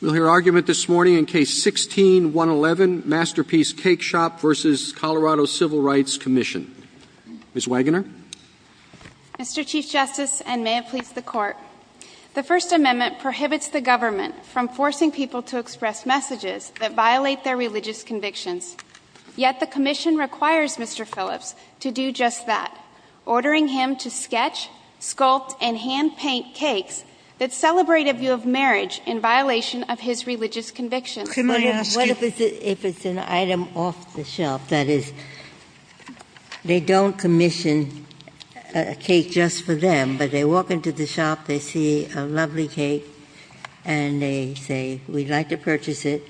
We'll hear argument this morning in Case 16-111, Masterpiece Cakeshop v. Colorado Civil Rights Comm'n. Ms. Wagoner? Mr. Chief Justice, and may it please the Court, the First Amendment prohibits the government from forcing people to express messages that violate their religious convictions. Yet the Comm'n requires Mr. Phillips to do just that, ordering him to sketch, sculpt, and hand-paint cakes that celebrate a view of marriage in violation of his religious convictions. What if it's an item off the shelf? That is, they don't commission a cake just for them, but they walk into the shop, they see a lovely cake, and they say, we'd like to purchase it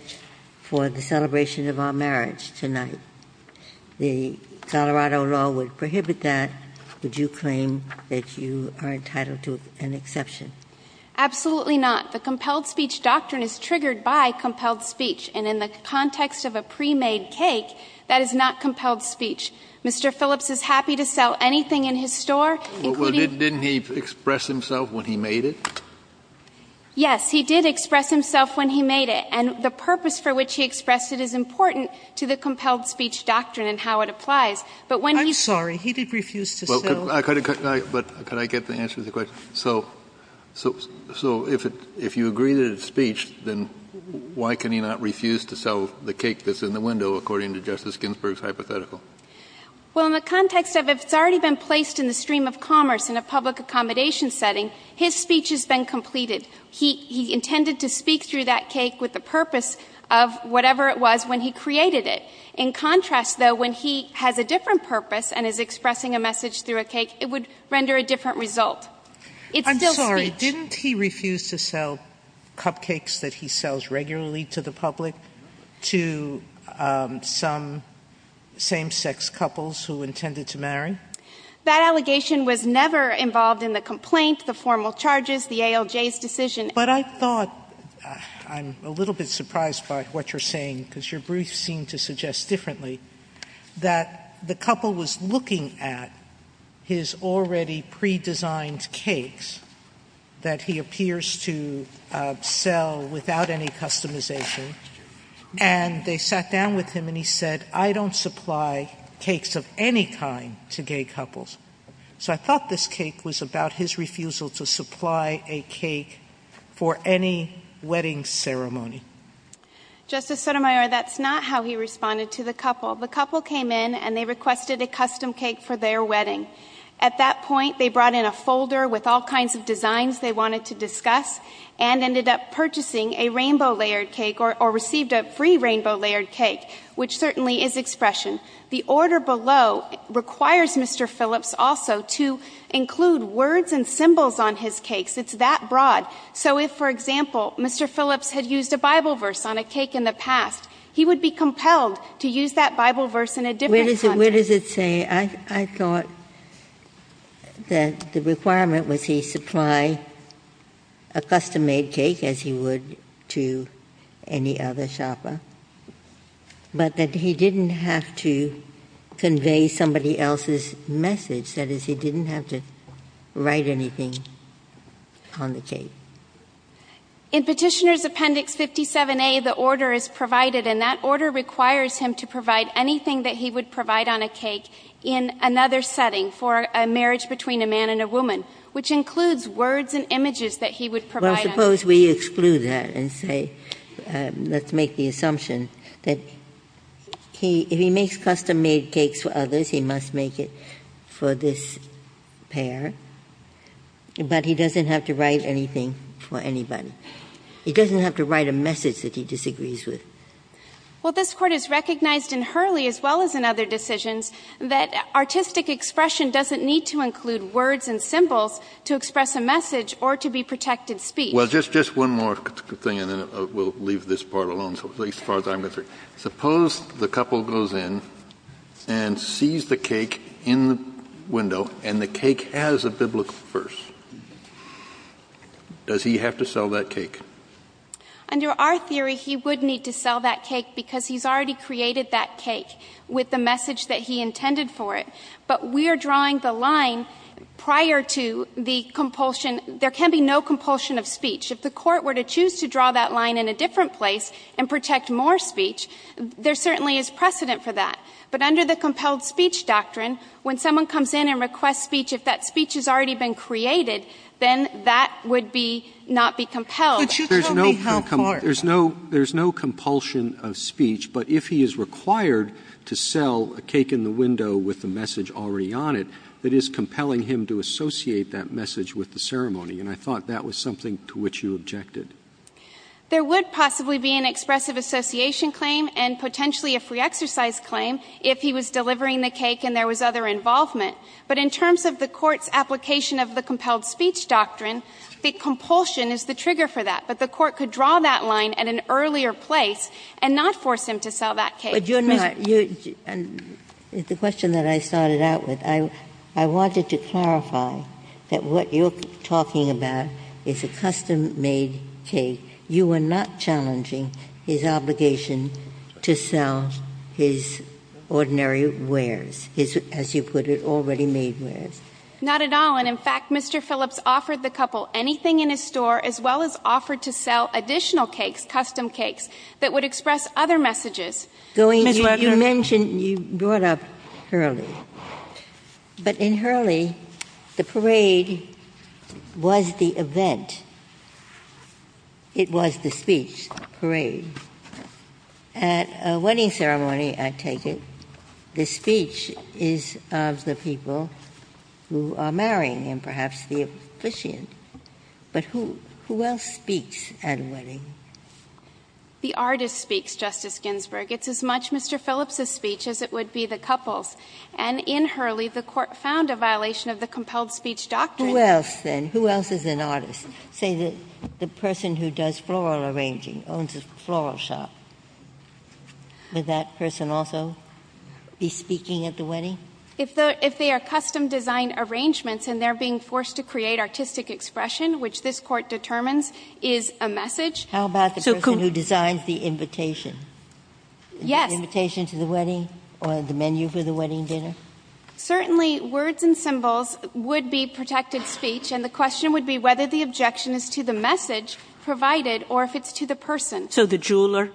for the celebration of our marriage tonight. The Colorado law would prohibit that. Would you claim that you are entitled to an exception? Absolutely not. The compelled speech doctrine is triggered by compelled speech, and in the context of a pre-made cake, that is not compelled speech. Mr. Phillips is happy to sell anything in his store, including... Well, didn't he express himself when he made it? Yes, he did express himself when he made it, and the purpose for which he expressed it is important to the compelled speech doctrine and how it applies. I'm sorry, he did refuse to sell. But could I get the answer to the question? So if you agree that it's speech, then why can he not refuse to sell the cake that's in the window, according to Justice Ginsburg's hypothetical? Well, in the context of it's already been placed in the stream of commerce in a public accommodation setting, his speech has been completed. He intended to speak through that cake with the purpose of whatever it was when he created it. In contrast, though, when he has a different purpose and is expressing a message through a cake, it would render a different result. I'm sorry, didn't he refuse to sell cupcakes that he sells regularly to the public to some same-sex couples who intended to marry? That allegation was never involved in the complaints, the formal charges, the ALJ's decision. But I thought, I'm a little bit surprised by what you're saying, because your briefs seem to suggest differently, that the couple was looking at his already pre-designed cakes that he appears to sell without any customization, and they sat down with him and he said, I don't supply cakes of any kind to gay couples. So I thought this cake was about his refusal to supply a cake for any wedding ceremony. Justice Sotomayor, that's not how he responded to the couple. The couple came in and they requested a custom cake for their wedding. At that point, they brought in a folder with all kinds of designs they wanted to discuss and ended up purchasing a rainbow-layered cake, or received a free rainbow-layered cake, which certainly is expression. The order below requires Mr. Phillips also to include words and symbols on his cakes. It's that broad. So if, for example, Mr. Phillips had used a Bible verse on a cake in the past, he would be compelled to use that Bible verse in a different context. What does it say? I thought that the requirement was he supply a custom-made cake, as he would to any other shopper, but that he didn't have to convey somebody else's message, that is, he didn't have to write anything on the cake. In Petitioner's Appendix 57A, the order is provided, and that order requires him to provide anything that he would provide on a cake in another setting for a marriage between a man and a woman, which includes words and images that he would provide. Well, suppose we exclude that and say, let's make the assumption that if he makes custom-made cakes for others, he must make it for this pair, but he doesn't have to write anything for anybody. He doesn't have to write a message that he disagrees with. Well, this Court has recognized in Hurley, as well as in other decisions, that artistic expression doesn't need to include words and symbols to express a message or to be protected speech. Well, just one more thing, and then we'll leave this part alone, at least as far as I'm interested. Suppose the couple goes in and sees the cake in the window, and the cake has a biblical verse. Does he have to sell that cake? Under our theory, he would need to sell that cake because he's already created that cake with the message that he intended for it, but we're drawing the line prior to the compulsion. There can be no compulsion of speech. If the Court were to choose to draw that line in a different place and protect more speech, there certainly is precedent for that. But under the compelled speech doctrine, when someone comes in and requests speech, if that speech has already been created, then that would not be compelled. There's no compulsion of speech, but if he is required to sell a cake in the window with the message already on it, it is compelling him to associate that message with the ceremony, and I thought that was something to which you objected. There would possibly be an expressive association claim and potentially a free exercise claim if he was delivering the cake and there was other involvement. But in terms of the Court's application of the compelled speech doctrine, the compulsion is the trigger for that. But the Court could draw that line at an earlier place and not force him to sell that cake. It's a question that I started out with. I wanted to clarify that what you're talking about is a custom-made cake. You are not challenging his obligation to sell his ordinary wares, his, as you put it, already made wares. Not at all, and in fact, Mr. Phillips offered the couple anything in his store as well as offered to sell additional cakes, custom cakes, that would express other messages. You mentioned you brought up Hurley, but in Hurley, the parade was the event. It was the speech parade. At a wedding ceremony, I take it, the speech is of the people who are marrying and perhaps the officiant. The artist speaks, Justice Ginsburg. It's as much Mr. Phillips' speech as it would be the couple's. And in Hurley, the Court found a violation of the compelled speech doctrine. Who else, then? Who else is an artist? Say that the person who does floral arranging owns a floral shop. Would that person also be speaking at the wedding? If they are custom-designed arrangements and they're being forced to create artistic expression, which this Court determines is a message. How about the person who designs the invitation? Yes. The invitation to the wedding or the menu for the wedding dinner? Certainly, words and symbols would be protected speech, and the question would be whether the objection is to the message provided or if it's to the person. So the jeweler?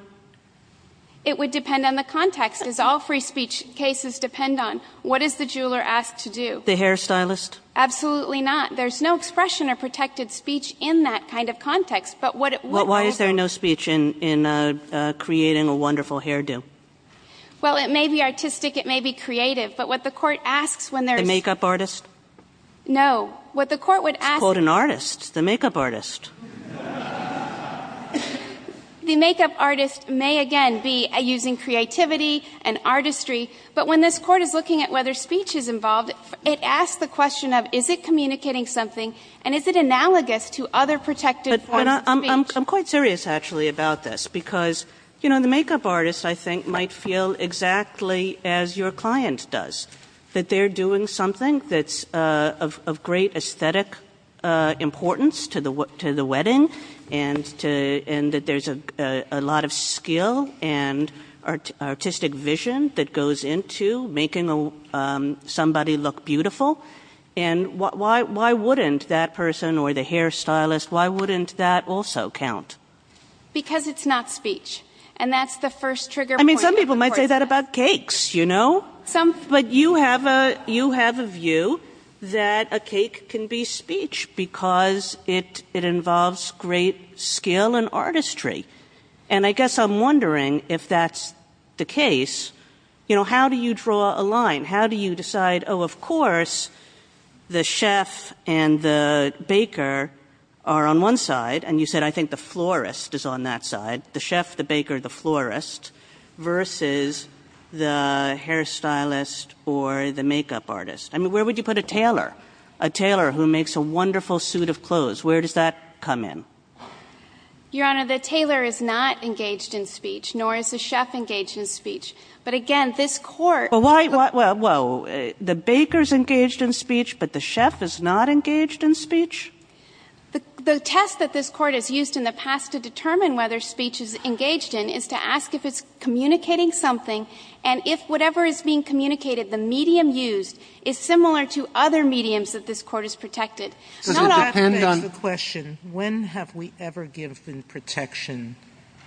It would depend on the context, as all free speech cases depend on what is the jeweler asked to do. The hairstylist? Absolutely not. There's no expression of protected speech in that kind of context. Why is there no speech in creating a wonderful hairdo? Well, it may be artistic. It may be creative. But what the Court asks when there's... A makeup artist? No. What the Court would ask... Quote an artist. The makeup artist. The makeup artist may, again, be using creativity and artistry. But when this Court is looking at whether speech is involved, it asks the question of, is it communicating something, and is it analogous to other protected forms of speech? I'm quite serious, actually, about this, because, you know, the makeup artist, I think, might feel exactly as your client does, that they're doing something that's of great aesthetic importance to the wedding and that there's a lot of skill and artistic vision that goes into making somebody look beautiful. And why wouldn't that person or the hairstylist, why wouldn't that also count? Because it's not speech. And that's the first trigger point. I mean, some people might say that about cakes, you know. But you have a view that a cake can be speech because it involves great skill and artistry. And I guess I'm wondering if that's the case. You know, how do you draw a line? How do you decide, oh, of course, the chef and the baker are on one side, and you said, I think the florist is on that side, the chef, the baker, the florist, versus the hairstylist or the makeup artist? I mean, where would you put a tailor? A tailor who makes a wonderful suit of clothes. Where does that come in? Your Honor, the tailor is not engaged in speech, nor is the chef engaged in speech. But again, this court... Well, the baker's engaged in speech, but the chef is not engaged in speech? The test that this court has used in the past to determine whether speech is engaged in is to ask if it's communicating something, and if whatever is being communicated, the medium used, is similar to other mediums that this court has protected. It depends on the question, when have we ever given protection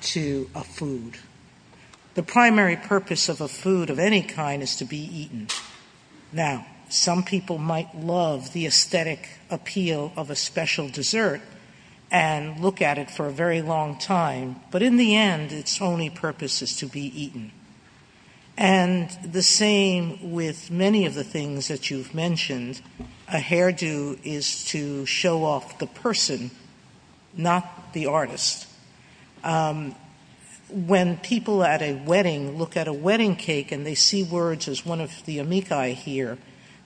to a food? The primary purpose of a food of any kind is to be eaten. Now, some people might love the aesthetic appeal of a special dessert and look at it for a very long time. But in the end, its only purpose is to be eaten. And the same with many of the things that you've mentioned. A hairdo is to show off the person, not the artist. When people at a wedding look at a wedding cake and they see words as one of the amici here,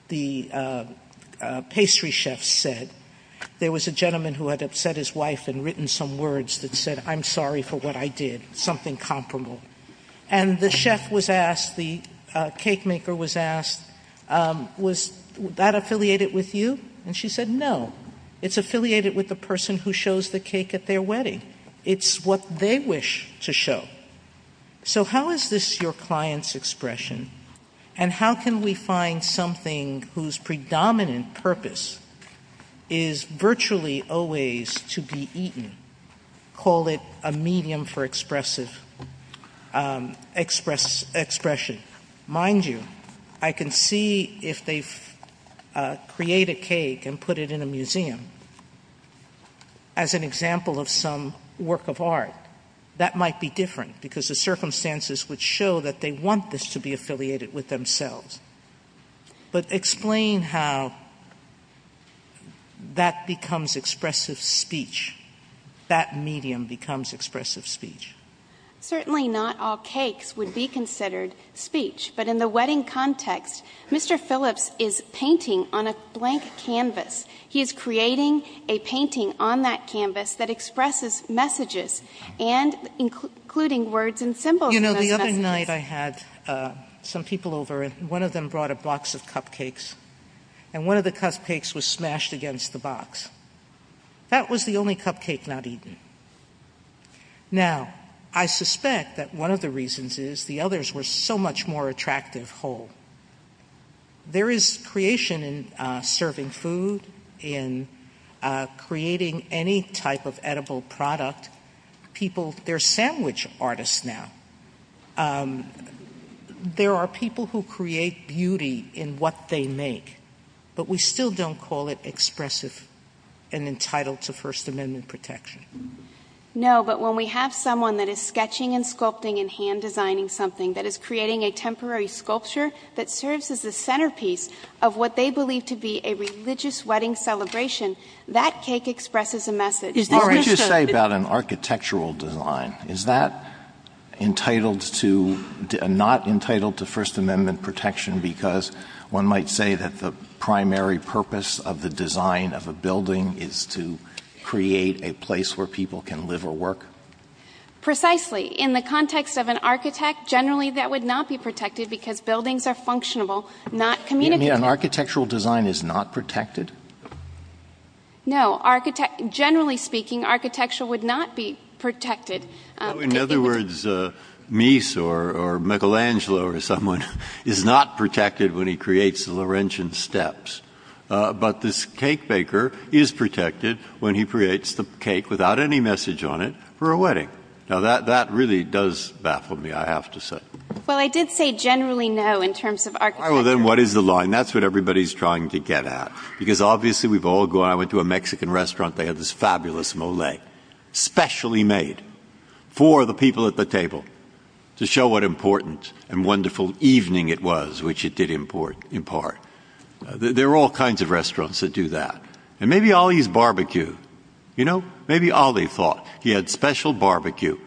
the pastry chef said, there was a gentleman who had upset his wife and written some words that said, I'm sorry for what I did, something comparable. And the chef was asked, the cake maker was asked, was that affiliated with you? And she said, no. It's affiliated with the person who shows the cake at their wedding. It's what they wish to show. So how is this your client's expression? And how can we find something whose predominant purpose is virtually always to be eaten? Call it a medium for expressive expression. Mind you, I can see if they create a cake and put it in a museum as an example of some work of art. That might be different because the circumstances would show that they want this to be affiliated with themselves. But explain how that becomes expressive speech, that medium becomes expressive speech. Certainly not all cakes would be considered speech. But in the wedding context, Mr. Phillips is painting on a blank canvas. He is creating a painting on that canvas that expresses messages and including words and symbols. You know, the other night I had some people over, and one of them brought a box of cupcakes. And one of the cupcakes was smashed against the box. That was the only cupcake not eaten. Now, I suspect that one of the reasons is the others were so much more attractive whole. There is creation in serving food, in creating any type of edible product. There are sandwich artists now. There are people who create beauty in what they make, but we still don't call it expressive and entitled to First Amendment protection. No, but when we have someone that is sketching and sculpting and hand designing something that is creating a temporary sculpture that serves as a centerpiece of what they believe to be a religious wedding celebration, that cake expresses a message. What would you say about an architectural design? Is that not entitled to First Amendment protection because one might say that the primary purpose of the design of a building is to create a place where people can live or work? Precisely. In the context of an architect, generally that would not be protected because buildings are functional, not communicable. You mean an architectural design is not protected? No, generally speaking, architecture would not be protected. In other words, Mies or Michelangelo or someone is not protected when he creates the Laurentian steps, but this cake baker is protected when he creates the cake without any message on it for a wedding. Now that really does baffle me, I have to say. Well, I did say generally no in terms of architecture. All right, well then what is the line? That's what everybody's trying to get at because obviously we've all gone to a Mexican restaurant that has this fabulous mole, specially made for the people at the table to show what important and wonderful evening it was, which it did in part. There are all kinds of restaurants that do that. And maybe Ali's barbecue, you know? Maybe Ali thought he had special barbecue.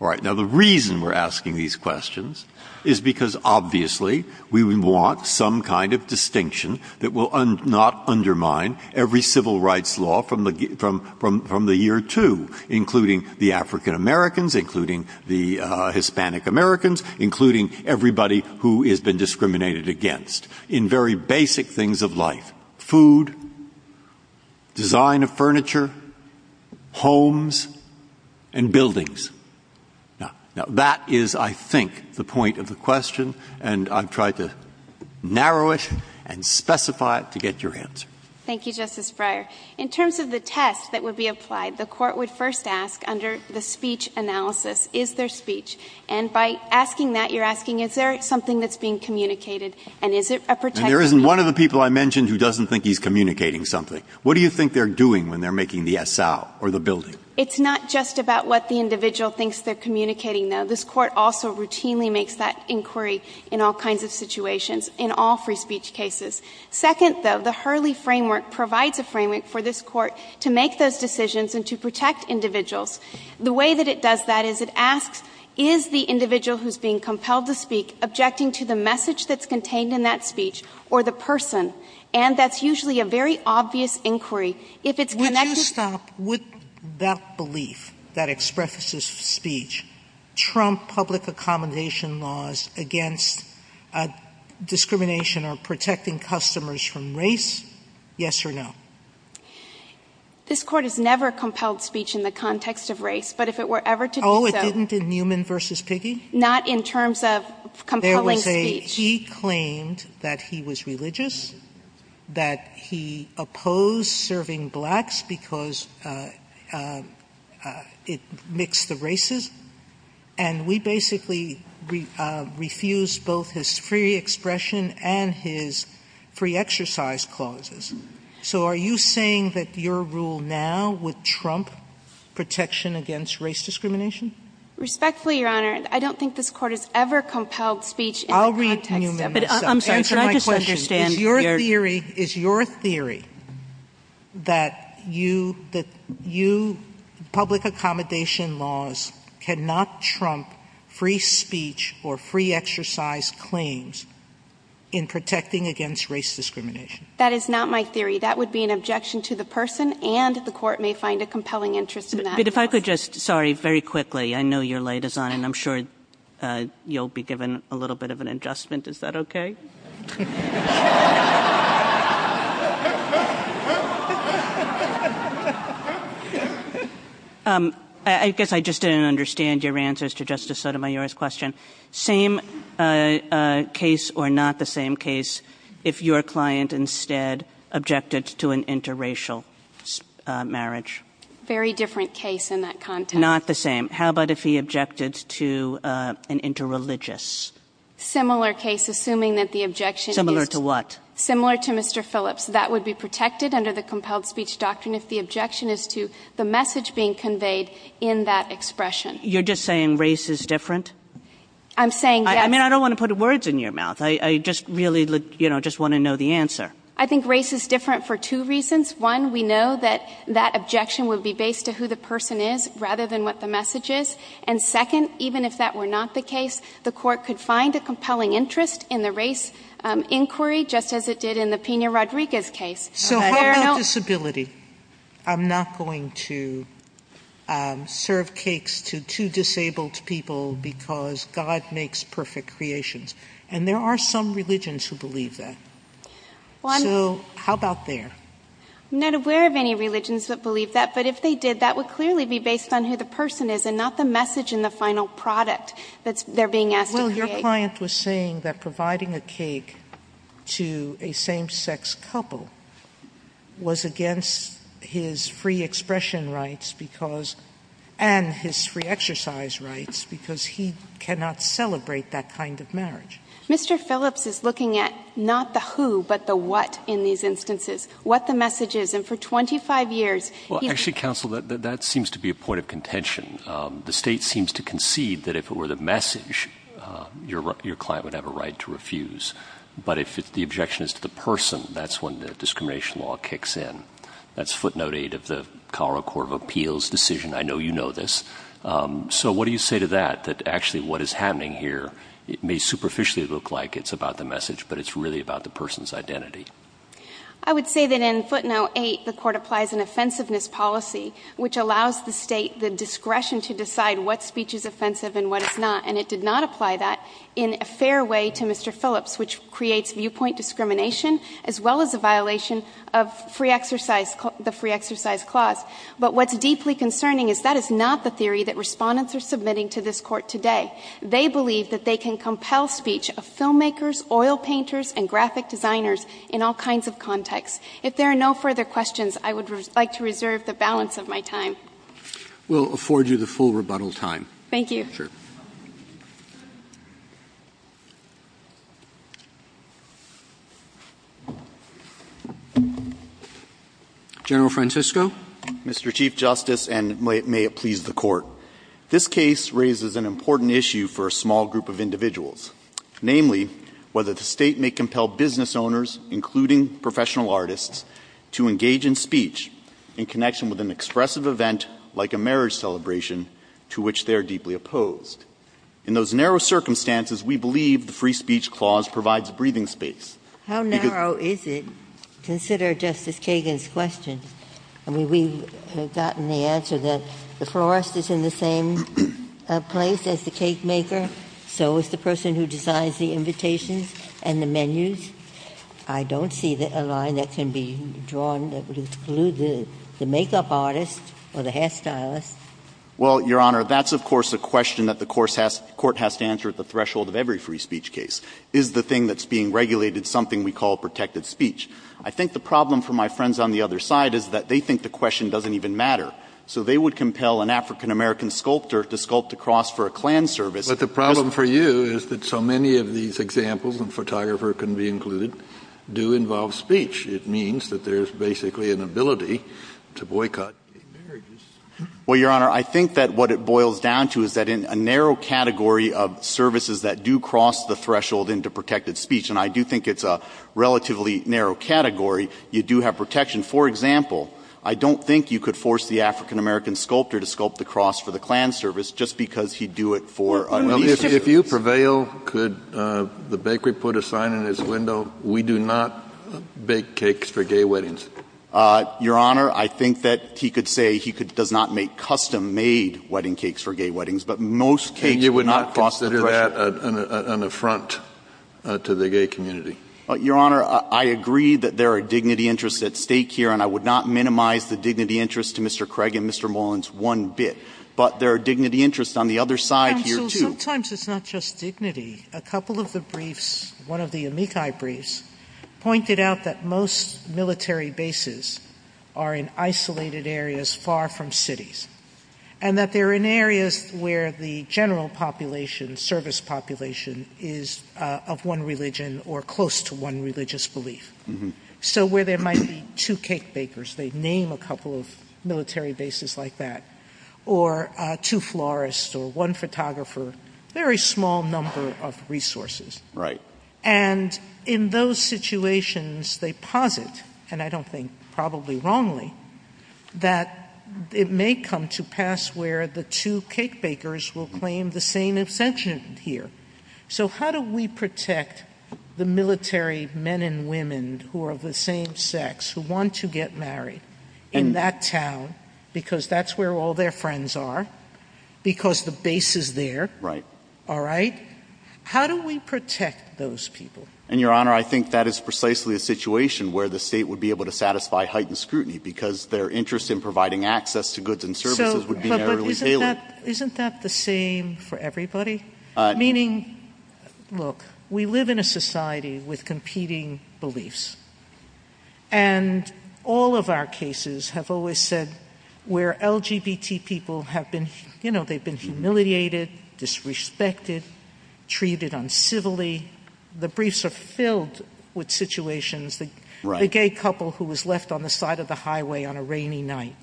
All right, now the reason we're asking these questions is because obviously we want some kind of distinction that will not undermine every civil rights law from the year two, including the African Americans, including the Hispanic Americans, including everybody who has been discriminated against in very basic things of life. Food, design of furniture, homes, and buildings. Now that is, I think, the point of the question, and I've tried to narrow it and specify it to get your answer. Thank you, Justice Breyer. In terms of the test that would be applied, the court would first ask under the speech analysis, is there speech? And by asking that, you're asking, is there something that's being communicated and is it a protection? And there isn't one of the people I mentioned who doesn't think he's communicating something. What do you think they're doing when they're making the esal or the building? It's not just about what the individual thinks they're communicating, though. This court also routinely makes that inquiry in all kinds of situations, in all free speech cases. Second, though, the Hurley framework provides a framework for this court to make those decisions and to protect individuals. The way that it does that is it asks, is the individual who's being compelled to speak objecting to the message that's contained in that speech or the person? And that's usually a very obvious inquiry. Would that belief that expresses speech trump public accommodation laws against discrimination or protecting customers from race? Yes or no? This court has never compelled speech in the context of race, but if it were ever to do so... Oh, it didn't in Newman v. Piggy? Not in terms of compelling speech. He claimed that he was religious, that he opposed serving blacks because it mixed the races, and we basically refused both his free expression and his pre-exercise clauses. So are you saying that your rule now would trump protection against race discrimination? Respectfully, Your Honor, I don't think this court has ever compelled speech... I'll read Newman. Answer my question. Is your theory that public accommodation laws cannot trump free speech or free exercise claims in protecting against race discrimination? That is not my theory. That would be an objection to the person, and the court may find a compelling interest in that. If I could just, sorry, very quickly. I know you're late, and I'm sure you'll be given a little bit of an adjustment. Is that okay? I guess I just didn't understand your answers to Justice Sotomayor's question. Same case or not the same case if your client instead objected to an interracial marriage? Very different case in that context. Not the same. How about if he objected to an interreligious? Similar case, assuming that the objection... Similar to what? Similar to Mr. Phillips. That would be protected under the compelled speech doctrine if the objection is to the message being conveyed in that expression. You're just saying race is different? I'm saying... I mean, I don't want to put words in your mouth. I just really, you know, just want to know the answer. I think race is different for two reasons. One, we know that that objection would be based to who the person is rather than what the message is. And second, even if that were not the case, the court could find a compelling interest in the race inquiry just as it did in the Pena-Rodriguez case. So how about disability? I'm not going to serve cakes to two disabled people because God makes perfect creations. And there are some religions who believe that. So how about there? I'm not aware of any religions that believe that, but if they did, that would clearly be based on who the person is and not the message in the final product that they're being asked to create. Well, your client was saying that providing a cake to a same-sex couple was against his free expression rights and his free exercise rights because he cannot celebrate that kind of marriage. Mr. Phillips is looking at not the who but the what in these instances, what the message is. And for 25 years... Well, actually, counsel, that seems to be a point of contention. The state seems to concede that if it were the message, your client would have a right to refuse. But if the objection is to the person, that's when the discrimination law kicks in. That's footnote 8 of the Colorado Court of Appeals decision. I know you know this. So what do you say to that, that actually what is happening here may superficially look like it's about the message, but it's really about the person's identity? I would say that in footnote 8, the court applies an offensiveness policy which allows the state the discretion to decide what speech is offensive and what is not, and it did not apply that in a fair way to Mr. Phillips, which creates viewpoint discrimination as well as a violation of the free exercise clause. But what's deeply concerning is that is not the theory that respondents are submitting to this court today. They believe that they can compel speech of filmmakers, oil painters, and graphic designers in all kinds of contexts. If there are no further questions, I would like to reserve the balance of my time. We'll afford you the full rebuttal time. Thank you. General Francisco? Mr. Chief Justice, and may it please the court, this case raises an important issue for a small group of individuals, namely whether the state may compel business owners, including professional artists, to engage in speech in connection with an expressive event like a marriage celebration to which they are deeply opposed. In those narrow circumstances, we believe the free speech clause provides breathing space. How narrow is it? Consider Justice Kagan's question. I mean, we have gotten the answer that the florist is in the same place as the cake maker, so is the person who designs the invitations and the menus. I don't see a line that can be drawn that excludes the makeup artist or the hair stylist. Well, Your Honor, that's of course a question that the court has to answer at the threshold of every free speech case, is the thing that's being regulated something we call protected speech. I think the problem for my friends on the other side is that they think the question doesn't even matter, so they would compel an African-American sculptor to sculpt a cross for a Klan service. But the problem for you is that so many of these examples and photographer can be included do involve speech. It means that there's basically an ability to boycott. Well, Your Honor, I think that what it boils down to is that in a narrow category of services that do cross the threshold into protected speech, and I do think it's a relatively narrow category, you do have protection. For example, I don't think you could force the African-American sculptor to sculpt the cross for the Klan service just because he'd do it for a... If you prevail, could the bakery put a sign in his window? We do not bake cakes for gay weddings. Your Honor, I think that he could say he does not make custom-made wedding cakes for gay weddings, but most cakes... You would not force to do that an affront to the gay community. Your Honor, I agree that there are dignity interests at stake here, and I would not minimize the dignity interests to Mr. Craig and Mr. Mullins one bit, but there are dignity interests on the other side here too. Sometimes it's not just dignity. A couple of the briefs, one of the amici briefs, pointed out that most military bases are in isolated areas far from cities, and that they're in areas where the general population, service population, is of one religion or close to one religious belief. So where there might be two cake bakers, they'd name a couple of military bases like that, or two florists or one photographer, a very small number of resources. And in those situations, they posit, and I don't think probably wrongly, that it may come to pass where the two cake bakers will claim the same ascension here. So how do we protect the military men and women who are of the same sex, who want to get married, in that town, because that's where all their friends are, because the base is there, all right? How do we protect those people? And Your Honor, I think that is precisely the situation where the state would be able to satisfy heightened scrutiny because their interest in providing access to goods and services would be narrowly tailored. Isn't that the same for everybody? Meaning, look, we live in a society with competing beliefs, and all of our cases have always said where LGBT people have been, you know, they've been humiliated, disrespected, treated uncivilly. The briefs are filled with situations. The gay couple who was left on the side of the highway on a rainy night.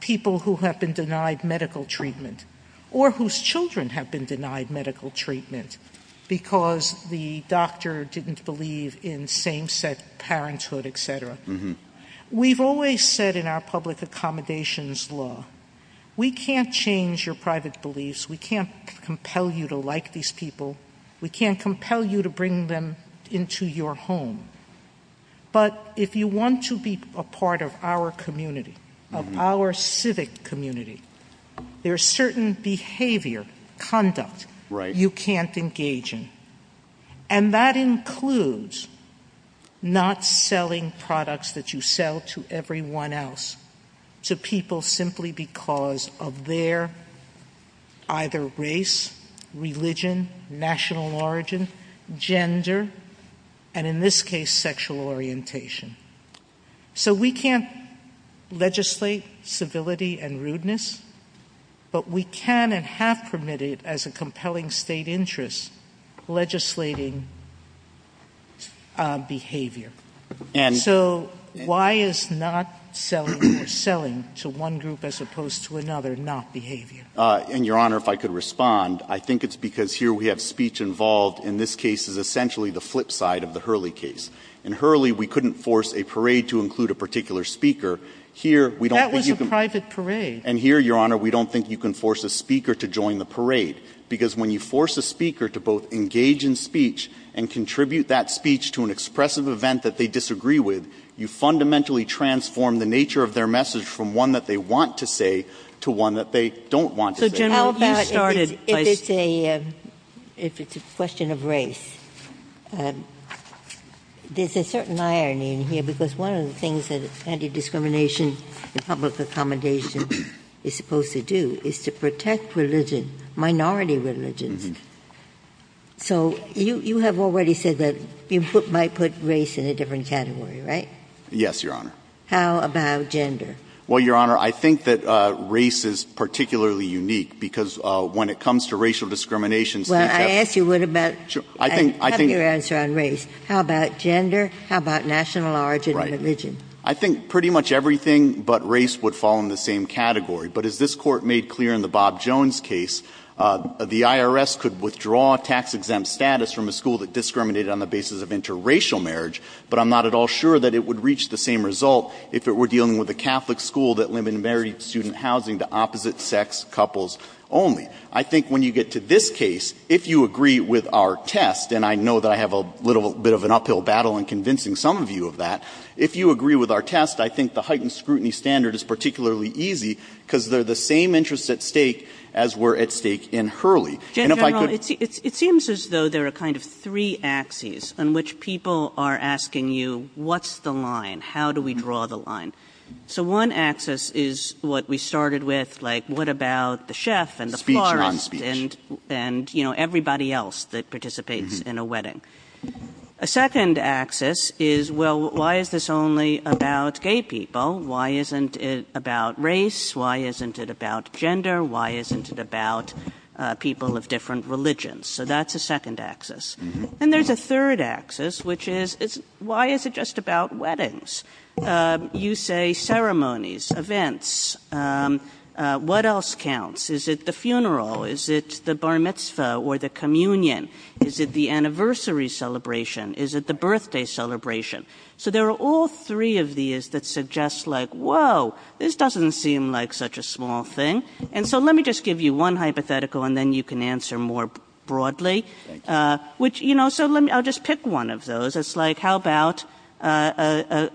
People who have been denied medical treatment, or whose children have been denied medical treatment because the doctor didn't believe in same-sex parenthood, etc. We've always said in our public accommodations law, we can't change your private beliefs. We can't compel you to like these people. We can't compel you to bring them into your home. But if you want to be a part of our community, of our civic community, there's certain behavior, conduct, you can't engage in. And that includes not selling products that you sell to everyone else, to people simply because of their either race, religion, national origin, gender, and in this case, sexual orientation. So we can't legislate civility and rudeness, but we can and have permitted, as a compelling state interest, legislating behavior. So why is not selling to one group as opposed to another not behavior? And, Your Honor, if I could respond, I think it's because here we have speech involved, in this case it's essentially the flip side of the Hurley case. In Hurley, we couldn't force a parade to include a particular speaker. That was a private parade. And here, Your Honor, we don't think you can force a speaker to join the parade. Because when you force a speaker to both engage in speech and contribute that speech to an expressive event that they disagree with, you fundamentally transform the nature of their message from one that they want to say to one that they don't want to say. How about if it's a question of race? There's a certain irony in here, because one of the things that anti-discrimination and public accommodation is supposed to do is to protect religion, minority religion. So you have already said that you put race in a different category, right? Yes, Your Honor. How about gender? Well, Your Honor, I think that race is particularly unique, because when it comes to racial discrimination... Well, I asked you what about... I think... I have your answer on race. How about gender? How about national origin and religion? I think pretty much everything but race would fall in the same category. But as this Court made clear in the Bob Jones case, the IRS could withdraw tax-exempt status from a school that discriminated on the basis of interracial marriage, but I'm not at all sure that it would reach the same result if it were dealing with a Catholic school that limited student housing to opposite-sex couples only. I think when you get to this case, if you agree with our test, and I know that I have a little bit of an uphill battle in convincing some of you of that, if you agree with our test, I think the heightened scrutiny standard is particularly easy, because they're the same interests at stake as were at stake in Hurley. It seems as though there are kind of three axes in which people are asking you, what's the line? How do we draw the line? So one axis is what we started with, like what about the chef and the florist and everybody else that participates in a wedding. A second axis is, well, why is this only about gay people? Why isn't it about race? Why isn't it about gender? Why isn't it about people of different religions? So that's a second axis. And there's a third axis, which is, why is it just about weddings? You say ceremonies, events. What else counts? Is it the funeral? Is it the bar mitzvah or the communion? Is it the anniversary celebration? Is it the birthday celebration? So there are all three of these that suggest like, whoa, this doesn't seem like such a small thing. And so let me just give you one hypothetical, and then you can answer more broadly. So I'll just pick one of those. It's like, how about a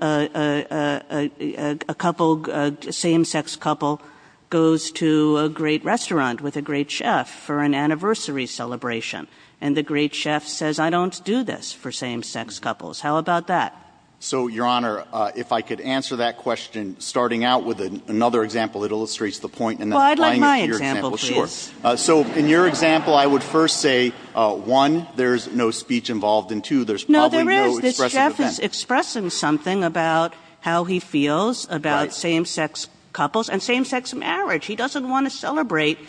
same-sex couple goes to a great restaurant with a great chef for an anniversary celebration, and the great chef says, I don't do this for same-sex couples. How about that? So, Your Honor, if I could answer that question, starting out with another example that illustrates the point. Well, I'd like my example, too. So in your example, I would first say, one, there's no speech involved, and two, there's probably no expression of intent. No, there is. The chef is expressing something about how he feels about same-sex couples and same-sex marriage. He doesn't want to celebrate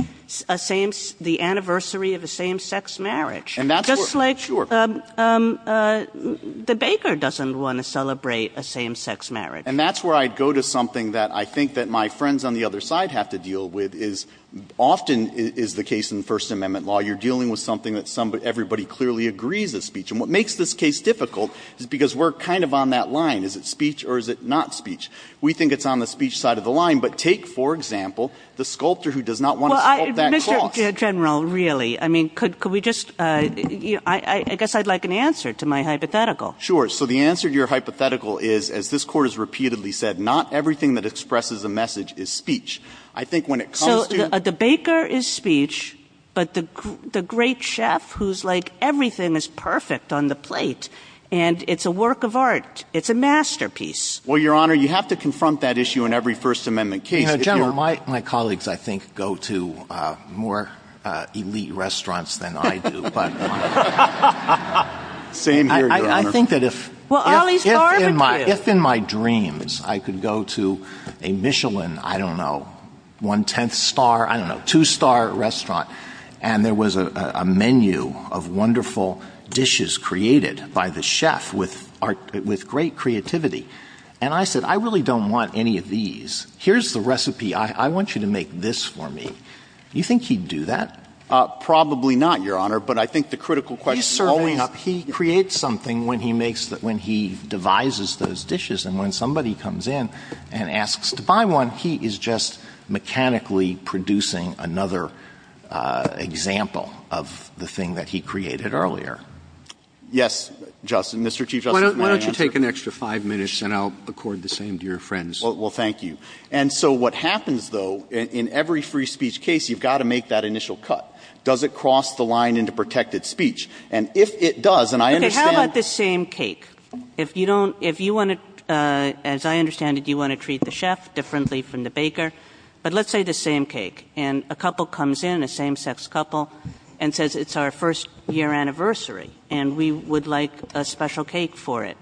the anniversary of a same-sex marriage. Just like the baker doesn't want to celebrate a same-sex marriage. And that's where I go to something that I think that my friends on the other side have to deal with is often is the case in First Amendment law. You're dealing with something that everybody clearly agrees is speech. And what makes this case difficult is because we're kind of on that line. Is it speech or is it not speech? We think it's on the speech side of the line. But take, for example, the sculptor who does not want to sculpt that clock. Mr. General, really, I mean, could we just – I guess I'd like an answer to my hypothetical. Sure. So the answer to your hypothetical is, as this Court has repeatedly said, not everything that expresses a message is speech. I think when it comes to – So the baker is speech, but the great chef who's like everything is perfect on the plate, and it's a work of art. It's a masterpiece. Well, Your Honor, you have to confront that issue in every First Amendment case. General, my colleagues, I think, go to more elite restaurants than I do. Same here, Your Honor. I think that if in my dreams I could go to a Michelin, I don't know, one-tenth star, I don't know, two-star restaurant, and there was a menu of wonderful dishes created by the chef with great creativity, and I said, I really don't want any of these. Here's the recipe. I want you to make this for me. Do you think he'd do that? Probably not, Your Honor, but I think the critical question – He's certainly not – He creates something when he makes – when he devises those dishes, and when somebody comes in and asks to buy one, he is just mechanically producing another example of the thing that he created earlier. Yes, Justice, Mr. Chief Justice. Why don't you take an extra five minutes, and I'll accord the same to your friends. Well, thank you. And so what happens, though, in every free speech case, you've got to make that initial cut. Does it cross the line into protected speech? And if it does, and I understand – Okay, how about the same cake? If you don't – if you want to – as I understand it, you want to treat the chef differently from the baker, but let's say the same cake, and a couple comes in, a same-sex couple, and says it's our first-year anniversary, and we would like a special cake for it.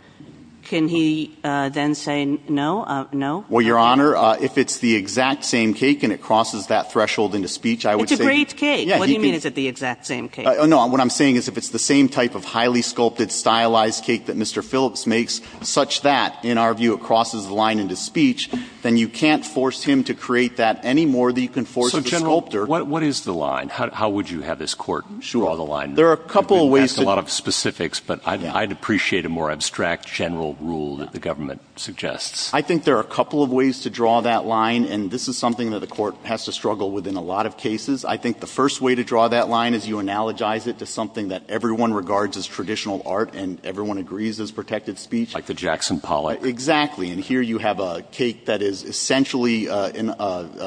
Can he then say no? No? Well, Your Honor, if it's the exact same cake and it crosses that threshold into speech, I would say – It's a great cake. What do you mean, is it the exact same cake? No, what I'm saying is if it's the same type of highly sculpted, stylized cake that Mr. Phillips makes, such that, in our view, it crosses the line into speech, then you can't force him to create that any more than you can force the sculptor. So, General, what is the line? How would you have this court draw the line? That's a lot of specifics, but I'd appreciate a more abstract general rule that the government suggests. I think there are a couple of ways to draw that line, and this is something that a court has to struggle with in a lot of cases. I think the first way to draw that line is you analogize it to something that everyone regards as traditional art, and everyone agrees is protected speech. Like the Jackson Pollock. Exactly. And here you have a cake that is essentially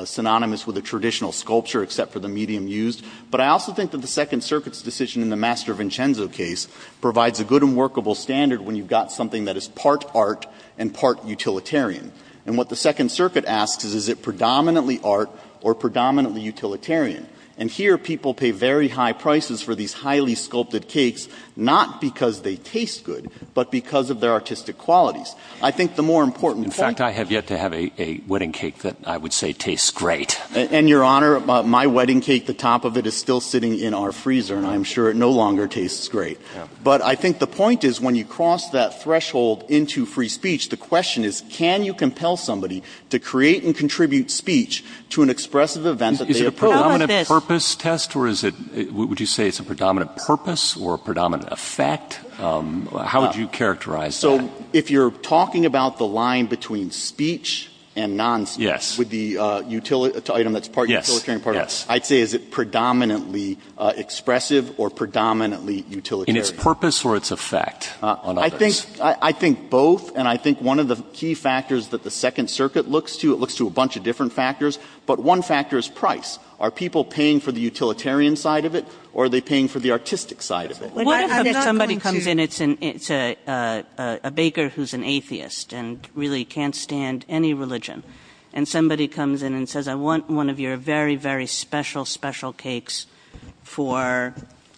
synonymous with a traditional sculpture, except for the medium used. But I also think that the Second Circuit's decision in the Master Vincenzo case provides a good and workable standard when you've got something that is part art and part utilitarian. And what the Second Circuit asks is, is it predominantly art or predominantly utilitarian? And here, people pay very high prices for these highly sculpted cakes, not because they taste good, but because of their artistic qualities. I think the more important thing... In fact, I have yet to have a wedding cake that I would say tastes great. And, Your Honor, my wedding cake, the top of it is still sitting in our freezer, and I'm sure it no longer tastes great. But I think the point is, when you cross that threshold into free speech, the question is, can you compel somebody to create and contribute speech to an expressive event that they approve? Is it a predominant purpose test, or is it... Would you say it's a predominant purpose or a predominant effect? How would you characterize that? So, if you're talking about the line between speech and non-speech, with the item that's part utilitarian and part art, I'd say, is it predominantly expressive or predominantly utilitarian? In its purpose or its effect on others? I think both, and I think one of the key factors that the Second Circuit looks to, it looks to a bunch of different factors, but one factor is price. Are people paying for the utilitarian side of it, or are they paying for the artistic side of it? Somebody comes in, it's a baker who's an atheist and really can't stand any religion, and somebody comes in and says, I want one of your very, very special, special cakes for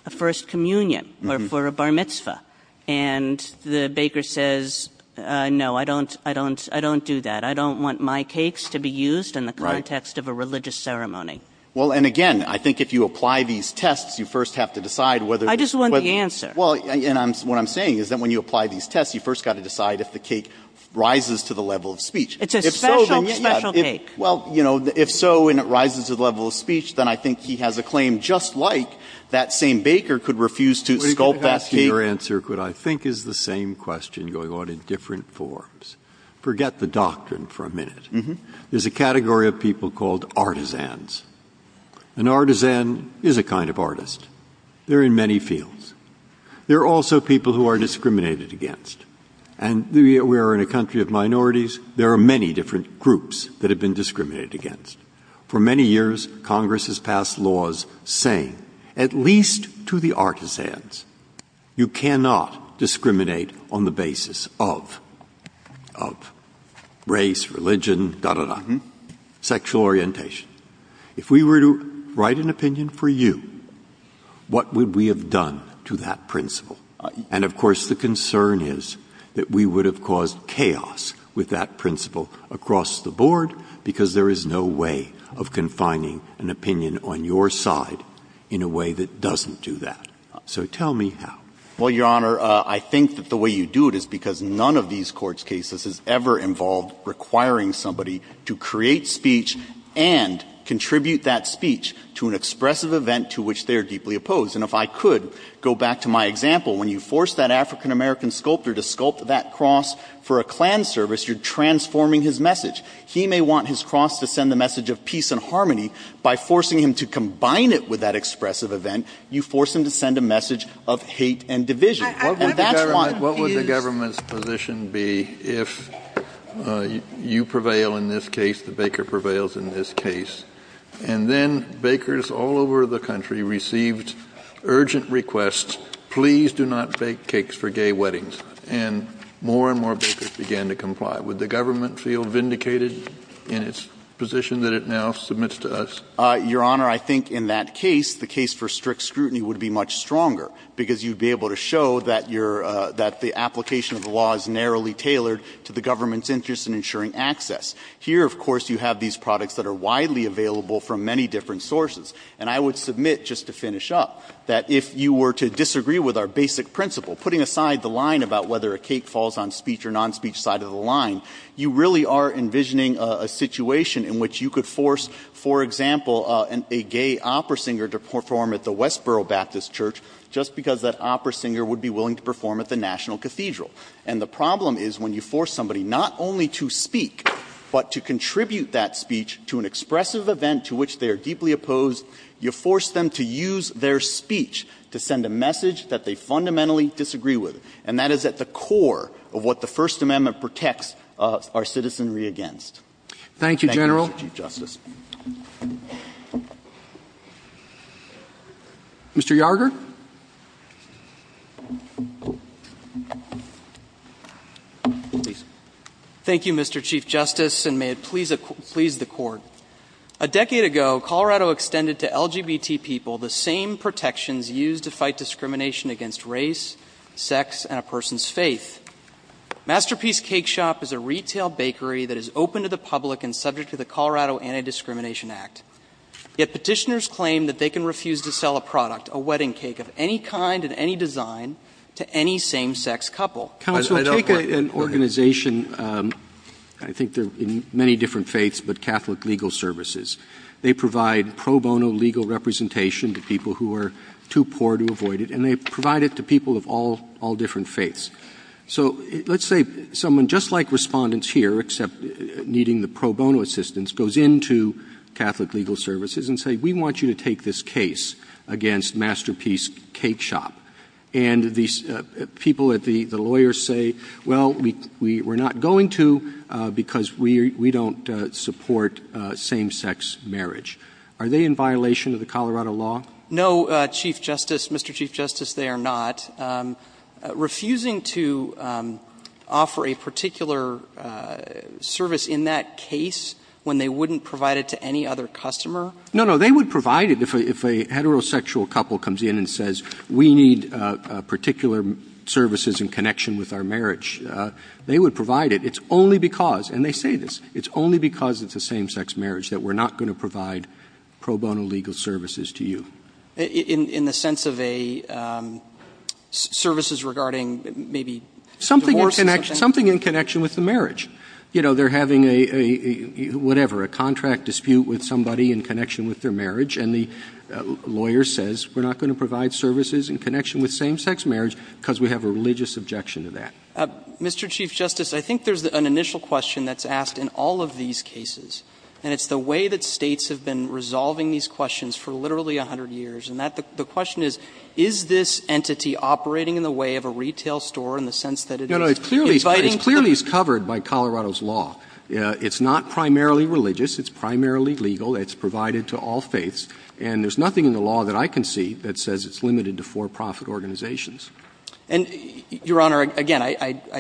a First Communion or for a Bar Mitzvah. And the baker says, no, I don't do that. I don't want my cakes to be used in the context of a religious ceremony. Well, and again, I think if you apply these tests, you first have to decide whether... Well, and what I'm saying is that when you apply these tests, you first have to decide if the cake rises to the level of speech. It's a special, special cake. Well, you know, if so, and it rises to the level of speech, then I think he has a claim just like that same baker could refuse to sculpt that cake. Your answer, I think, is the same question going on in different forms. Forget the doctrine for a minute. There's a category of people called artisans. An artisan is a kind of artist. They're in many fields. They're also people who are discriminated against. And we are in a country of minorities. There are many different groups that have been discriminated against. For many years, Congress has passed laws saying, at least to the artisans, you cannot discriminate on the basis of race, religion, da-da-da, sexual orientation. If we were to write an opinion for you, what would we have done to that principle? And, of course, the concern is that we would have caused chaos with that principle across the board because there is no way of confining an opinion on your side in a way that doesn't do that. So tell me how. Well, Your Honor, I think that the way you do it is because none of these court cases has ever involved requiring somebody to create speech and contribute that speech to an expressive event to which they are deeply opposed. And if I could go back to my example, when you force that African-American sculptor to sculpt that cross for a Klan service, you're transforming his message. He may want his cross to send the message of peace and harmony. By forcing him to combine it with that expressive event, you force him to send a message of hate and division. What would the government's position be if you prevail in this case, the baker prevails in this case, and then bakers all over the country received urgent requests, please do not bake cakes for gay weddings, and more and more bakers began to comply. Would the government feel vindicated in its position that it now submits to us? Your Honor, I think in that case, the case for strict scrutiny would be much stronger because you'd be able to show that the application of the law is narrowly tailored to the government's interest in ensuring access. Here, of course, you have these products that are widely available from many different sources. And I would submit, just to finish up, that if you were to disagree with our basic principle, putting aside the line about whether a cake falls on speech or non-speech side of the line, you really are envisioning a situation in which you could force, for example, a gay opera singer to perform at the Westboro Baptist Church just because that opera singer would be willing to perform at the National Cathedral. And the problem is when you force somebody not only to speak, but to contribute that speech to an expressive event to which they are deeply opposed, you force them to use their speech to send a message that they fundamentally disagree with. And that is at the core of what the First Amendment protects our citizenry against. Thank you, General. Mr. Yarger? Thank you, Mr. Chief Justice, and may it please the Court. A decade ago, Colorado extended to LGBT people the same protections used to fight discrimination against race, sex, and a person's faith. Masterpiece Cake Shop is a retail bakery that is open to the public and subject to the Colorado Anti-Discrimination Act. Yet petitioners claim that they can refuse to sell a product, a wedding cake of any kind and any design, to any same-sex couple. Take an organization, I think they're in many different faiths, but Catholic Legal Services. They provide pro bono legal representation to people who are too poor to avoid it, and they provide it to people of all different faiths. So let's say someone just like respondents here, except needing the pro bono assistance, goes into Catholic Legal Services and says, we want you to take this case against Masterpiece Cake Shop. And the people at the lawyers say, well, we're not going to because we don't support same-sex marriage. Are they in violation of the Colorado law? No, Chief Justice, Mr. Chief Justice, they are not. Refusing to offer a particular service in that case when they wouldn't provide it to any other customer? No, no, they would provide it if a heterosexual couple comes in and says, we need particular services in connection with our marriage. They would provide it. It's only because, and they say this, it's only because it's a same-sex marriage that we're not going to provide pro bono legal services to you. In the sense of a services regarding maybe... Something in connection with the marriage. You know, they're having a, whatever, a contract dispute with somebody in connection with their marriage, and the lawyer says, we're not going to provide services in connection with same-sex marriage because we have a religious objection to that. Mr. Chief Justice, I think there's an initial question that's asked in all of these cases, and it's the way that states have been resolving these questions for literally 100 years, and the question is, is this entity operating in the way of a retail store in the sense that it... No, no, it clearly is covered by Colorado's law. It's not primarily religious. It's primarily legal. It's provided to all faiths, and there's nothing in the law that I can see that says it's limited to for-profit organizations. And, Your Honor, again, I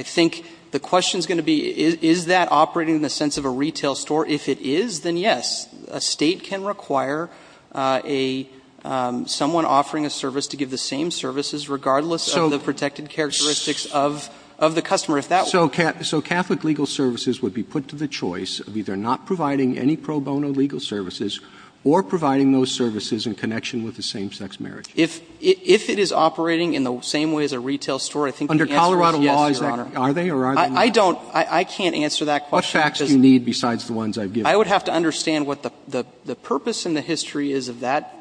think the question's going to be, is that operating in the sense of a retail store? If it is, then yes. A state can require someone offering a service to give the same services regardless of the protected characteristics of the customer. So Catholic legal services would be put to the choice of either not providing any pro bono legal services or providing those services in connection with the same-sex marriage. If it is operating in the same way as a retail store, I think... Under Colorado law, are they or are they not? I don't... I can't answer that question. What facts do you need besides the ones I've given? I would have to understand what the purpose and the history is of that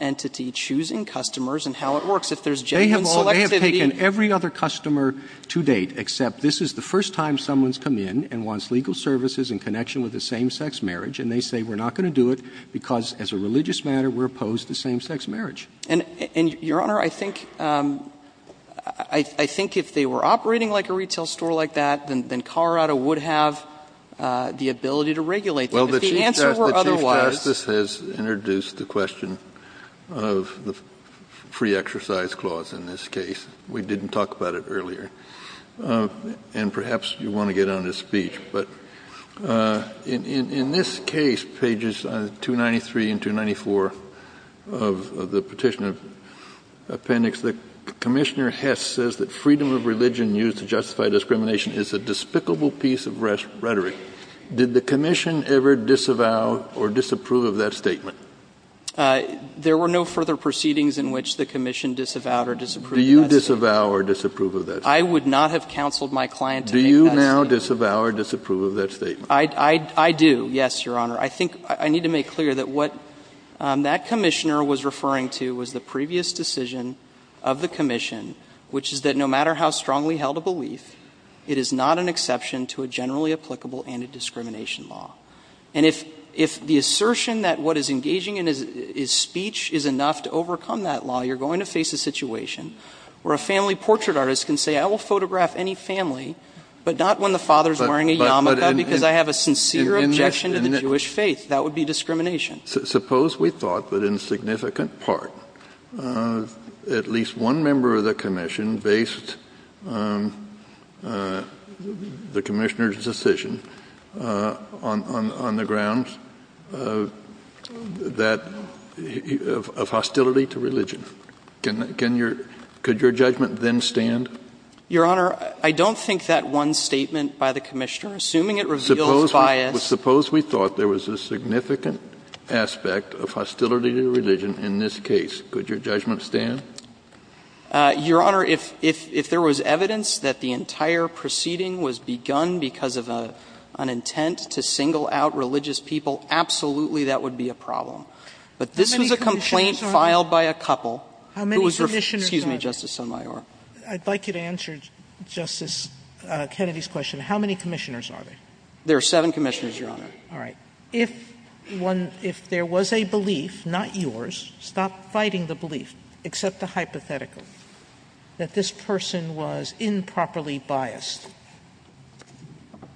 entity choosing customers and how it works. If there's genuine collectivity... They have taken every other customer to date except this is the first time someone's come in and wants legal services in connection with a same-sex marriage, and they say we're not going to do it because, as a religious matter, we're opposed to same-sex marriage. And, Your Honor, I think... I think if they were operating like a retail store like that, then Colorado would have the ability to regulate them. Well, the Chief Justice has introduced the question of the free exercise clause in this case. We didn't talk about it earlier. And perhaps you want to get on his speech. But in this case, pages 293 and 294 of the petition appendix, the Commissioner Hess says that freedom of religion used to justify discrimination is a despicable piece of rhetoric. Did the Commission ever disavow or disapprove of that statement? There were no further proceedings in which the Commission disavowed or disapproved of that. Do you disavow or disapprove of that statement? I would not have counseled my client to make that statement. Do you now disavow or disapprove of that statement? I do, yes, Your Honor. I think I need to make clear that what that Commissioner was referring to was the previous decision of the Commission, which is that no matter how strongly held a belief, it is not an exception to a generally applicable anti-discrimination law. And if the assertion that what is engaging in his speech is enough to overcome that law, you're going to face a situation where a family portrait artist can say, I will photograph any family, but not when the father is wearing a yarmulke, because I have a sincere objection to the Jewish faith. That would be discrimination. Suppose we thought that in significant part at least one member of the Commission based the Commissioner's decision on the grounds of hostility to religion. Could your judgment then stand? Your Honor, I don't think that one statement by the Commissioner, assuming it revealed bias. Suppose we thought there was a significant aspect of hostility to religion in this case. Could your judgment stand? Your Honor, if there was evidence that the entire proceeding was begun because of an intent to single out religious people, absolutely that would be a problem. But this is a complaint filed by a couple. How many Commissioners are there? Excuse me, Justice Sotomayor. I'd like you to answer Justice Kennedy's question. How many Commissioners are there? There are seven Commissioners, Your Honor. All right. If there was a belief, not yours, stop fighting the belief, except the hypothetical, that this person was improperly biased,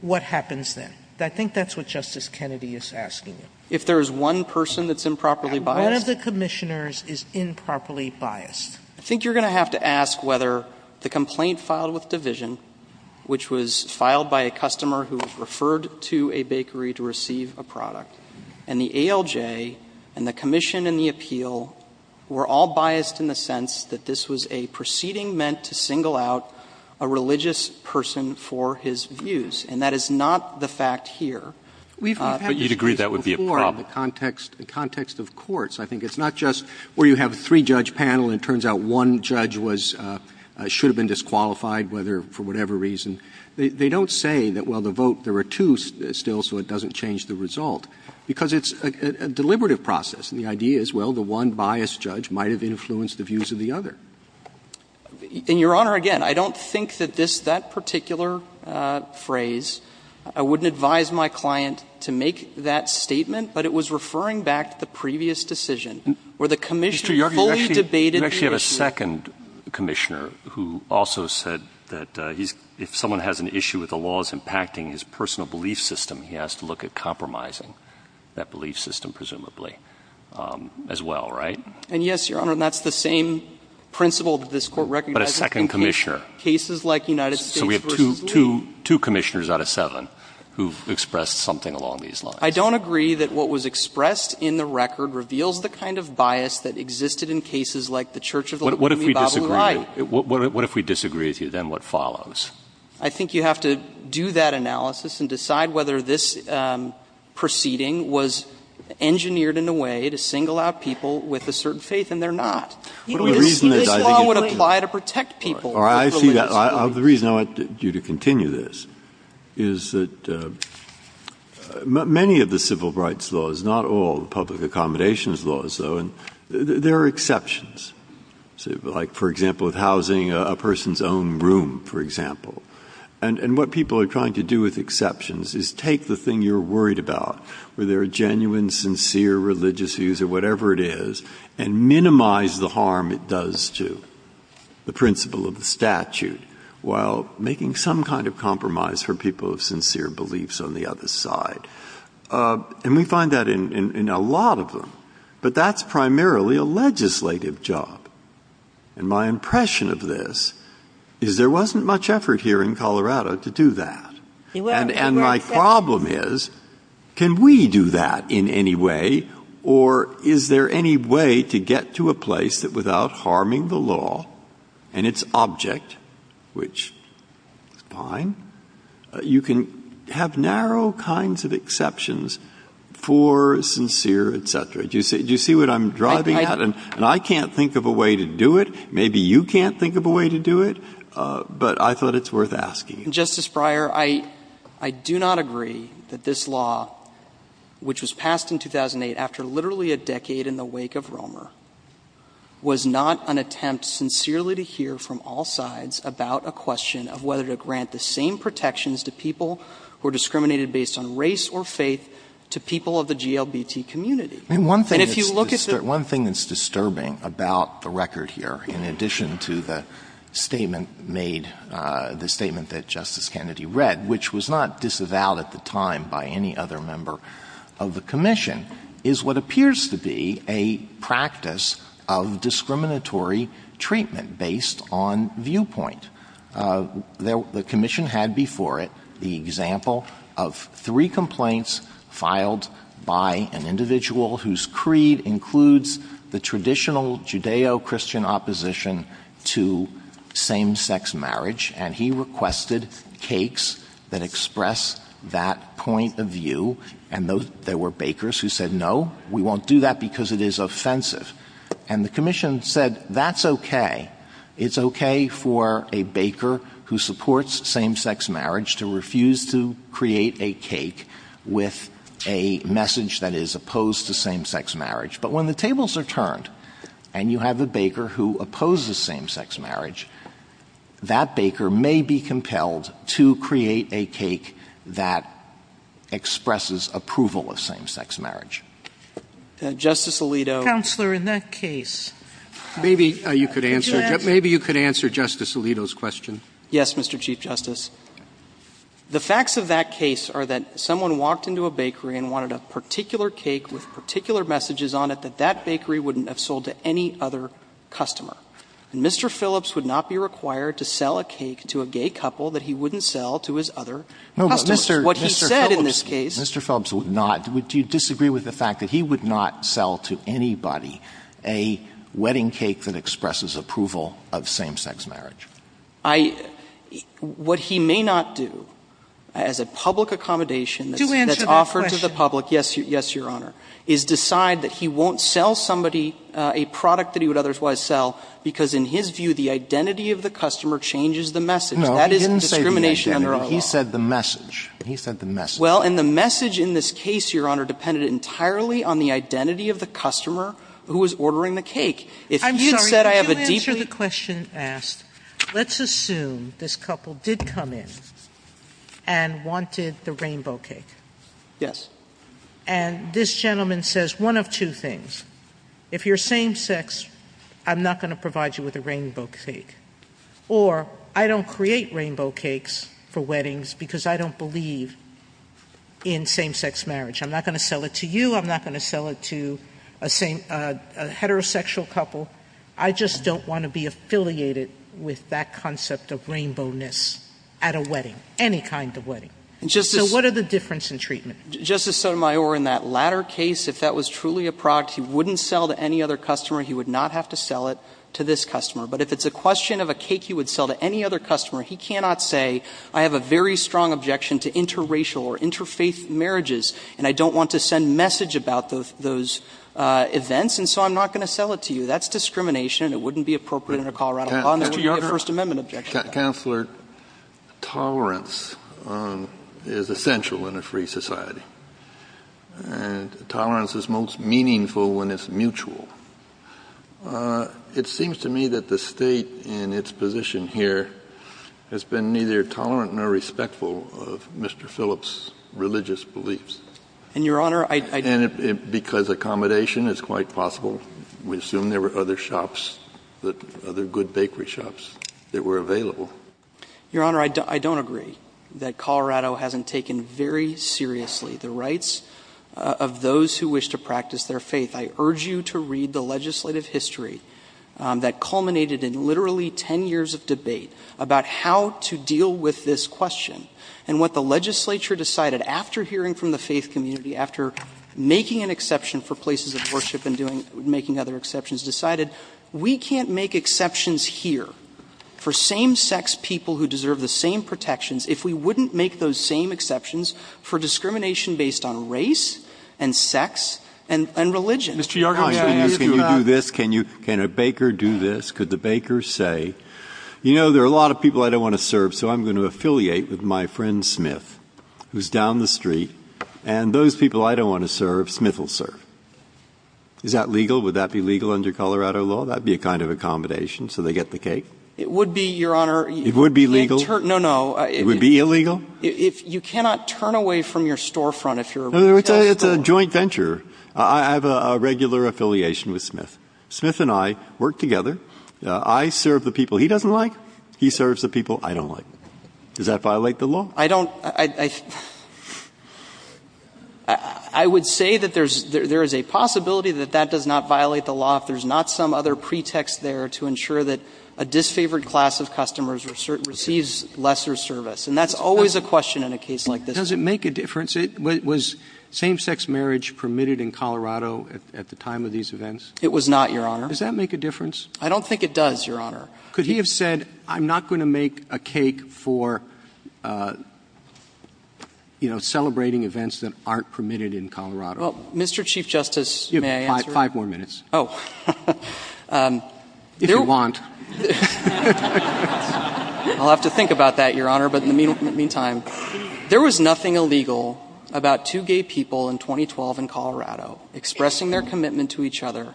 what happens then? I think that's what Justice Kennedy is asking. If there is one person that's improperly biased? One of the Commissioners is improperly biased. I think you're going to have to ask whether the complaint filed with Division, which was filed by a customer who referred to a bakery to receive a product, and the ALJ and the Commission and the appeal were all biased in the sense that this was a proceeding meant to single out a religious person for his views, and that is not the fact here. But you'd agree that would be a problem. In the context of courts, I think it's not just where you have a three-judge panel and it turns out one judge should have been disqualified for whatever reason. They don't say that, well, the vote, there are two still, so it doesn't change the result, because it's a deliberative process. The idea is, well, the one biased judge might have influenced the views of the other. And, Your Honor, again, I don't think that that particular phrase, I wouldn't advise my client to make that statement, but it was referring back to the previous decision where the Commissioner fully debated the issue. You actually have a second Commissioner who also said that if someone has an issue with the laws impacting his personal belief system, he has to look at compromising that belief system, presumably, as well, right? And, yes, Your Honor, that's the same principle that this Court recognizes. But a second Commissioner. Cases like United States v. Lee. So we have two Commissioners out of seven who've expressed something along these lines. I don't agree that what was expressed in the record reveals the kind of bias that existed in cases like the Church of the Law of the Bible and Life. What if we disagree? What if we disagree with you? Then what follows? I think you have to do that analysis and decide whether this proceeding was engineered in a way to single out people with a certain faith, and they're not. The law would apply to protect people. I see that. The reason I want you to continue this is that many of the civil rights laws, not all the public accommodations laws, though, there are exceptions. Like, for example, with housing a person's own room, for example. And what people are trying to do with exceptions is take the thing you're worried about, whether they're genuine, sincere religious views or whatever it is, and minimize the harm it does to the principle of the statute while making some kind of compromise for people with sincere beliefs on the other side. And we find that in a lot of them. But that's primarily a legislative job. And my impression of this is there wasn't much effort here in Colorado to do that. And my problem is, can we do that in any way, or is there any way to get to a place that without harming the law and its object, which is fine, you can have narrow kinds of exceptions for sincere, et cetera. Do you see what I'm driving at? And I can't think of a way to do it. Maybe you can't think of a way to do it. But I thought it's worth asking. Justice Breyer, I do not agree that this law, which was passed in 2008 after literally a decade in the wake of Romer, was not an attempt sincerely to hear from all sides about a question of whether to grant the same protections to people who are discriminated based on race or faith to people of the GLBT community. One thing that's disturbing about the record here, in addition to the statement that Justice Kennedy read, which was not disavowed at the time by any other member of the commission, is what appears to be a practice of discriminatory treatment based on viewpoint. The commission had before it the example of three complaints filed by an individual whose creed includes the traditional Judeo-Christian opposition to same-sex marriage, and he requested cakes that express that point of view. And there were bakers who said, no, we won't do that because it is offensive. And the commission said, that's okay. It's okay for a baker who supports same-sex marriage to refuse to create a cake with a message that is opposed to same-sex marriage. But when the tables are turned and you have a baker who opposes same-sex marriage, that baker may be compelled to create a cake that expresses approval of same-sex marriage. Justice Alito. Counselor, in that case. Maybe you could answer Justice Alito's question. Yes, Mr. Chief Justice. The facts of that case are that someone walked into a bakery and wanted a particular cake with particular messages on it that that bakery wouldn't have sold to any other customer. Mr. Phillips would not be required to sell a cake to a gay couple that he wouldn't sell to his other customers. What he said in this case. Mr. Phillips would not. Do you disagree with the fact that he would not sell to anybody a wedding cake that expresses approval of same-sex marriage? What he may not do as a public accommodation. Do answer that question. Yes, Your Honor. Is decide that he won't sell somebody a product that he would otherwise sell because in his view the identity of the customer changes the message. No, he didn't say that. He said the message. He said the message. Well, and the message in this case, Your Honor, depended entirely on the identity of the customer who was ordering the cake. Let's assume this couple did come in and wanted the rainbow cake. Yes. And this gentleman says one of two things. If you're same-sex, I'm not going to provide you with a rainbow cake. Or I don't create rainbow cakes for weddings because I don't believe in same-sex marriage. I'm not going to sell it to you. I'm not going to sell it to a heterosexual couple. I just don't want to be affiliated with that concept of rainbowness at a wedding, any kind of wedding. So what are the differences in treatment? Justice Sotomayor, in that latter case, if that was truly a product he wouldn't sell to any other customer, he would not have to sell it to this customer. But if it's a question of a cake he would sell to any other customer, he cannot say I have a very strong objection to interracial or interfaith marriages and I don't want to send a message about those events, and so I'm not going to sell it to you. That's discrimination and it wouldn't be appropriate in a Colorado Congress. That's a First Amendment objection. Counselor, tolerance is essential in a free society. Tolerance is most meaningful when it's mutual. It seems to me that the state in its position here has been neither tolerant nor respectful of Mr. Phillips' religious beliefs. And, Your Honor, I don't agree. And because accommodation is quite possible, we assume there were other shops, other good bakery shops that were available. Your Honor, I don't agree that Colorado hasn't taken very seriously the rights of those who wish to practice their faith. I urge you to read the legislative history that culminated in literally 10 years of debate about how to deal with this question and what the legislature decided after hearing from the faith community, after making an exception for places of worship and making other exceptions, decided we can't make exceptions here for same-sex people who deserve the same protections if we wouldn't make those same exceptions for discrimination based on race and sex and religion. Can a baker do this? Could the baker say, you know, there are a lot of people I don't want to serve, so I'm going to affiliate with my friend Smith, who's down the street, and those people I don't want to serve, Smith will serve. Is that legal? Would that be legal under Colorado law? That would be a kind of accommodation so they get the cake? It would be, Your Honor. It would be legal? No, no. It would be illegal? You cannot turn away from your storefront if you're... It's a joint venture. I have a regular affiliation with Smith. Smith and I work together. I serve the people he doesn't like. He serves the people I don't like. Does that violate the law? I don't... I would say that there is a possibility that that does not violate the law if there's not some other pretext there to ensure that a disfavored class of customers receives lesser service, and that's always a question in a case like this. Does it make a difference? Was same-sex marriage permitted in Colorado at the time of these events? It was not, Your Honor. Does that make a difference? I don't think it does, Your Honor. Could he have said, I'm not going to make a cake for, you know, celebrating events that aren't permitted in Colorado? Well, Mr. Chief Justice, may I answer? You have five more minutes. Oh. If you want. I'll have to think about that, Your Honor, but in the meantime, there was nothing illegal about two gay people in 2012 in Colorado expressing their commitment to each other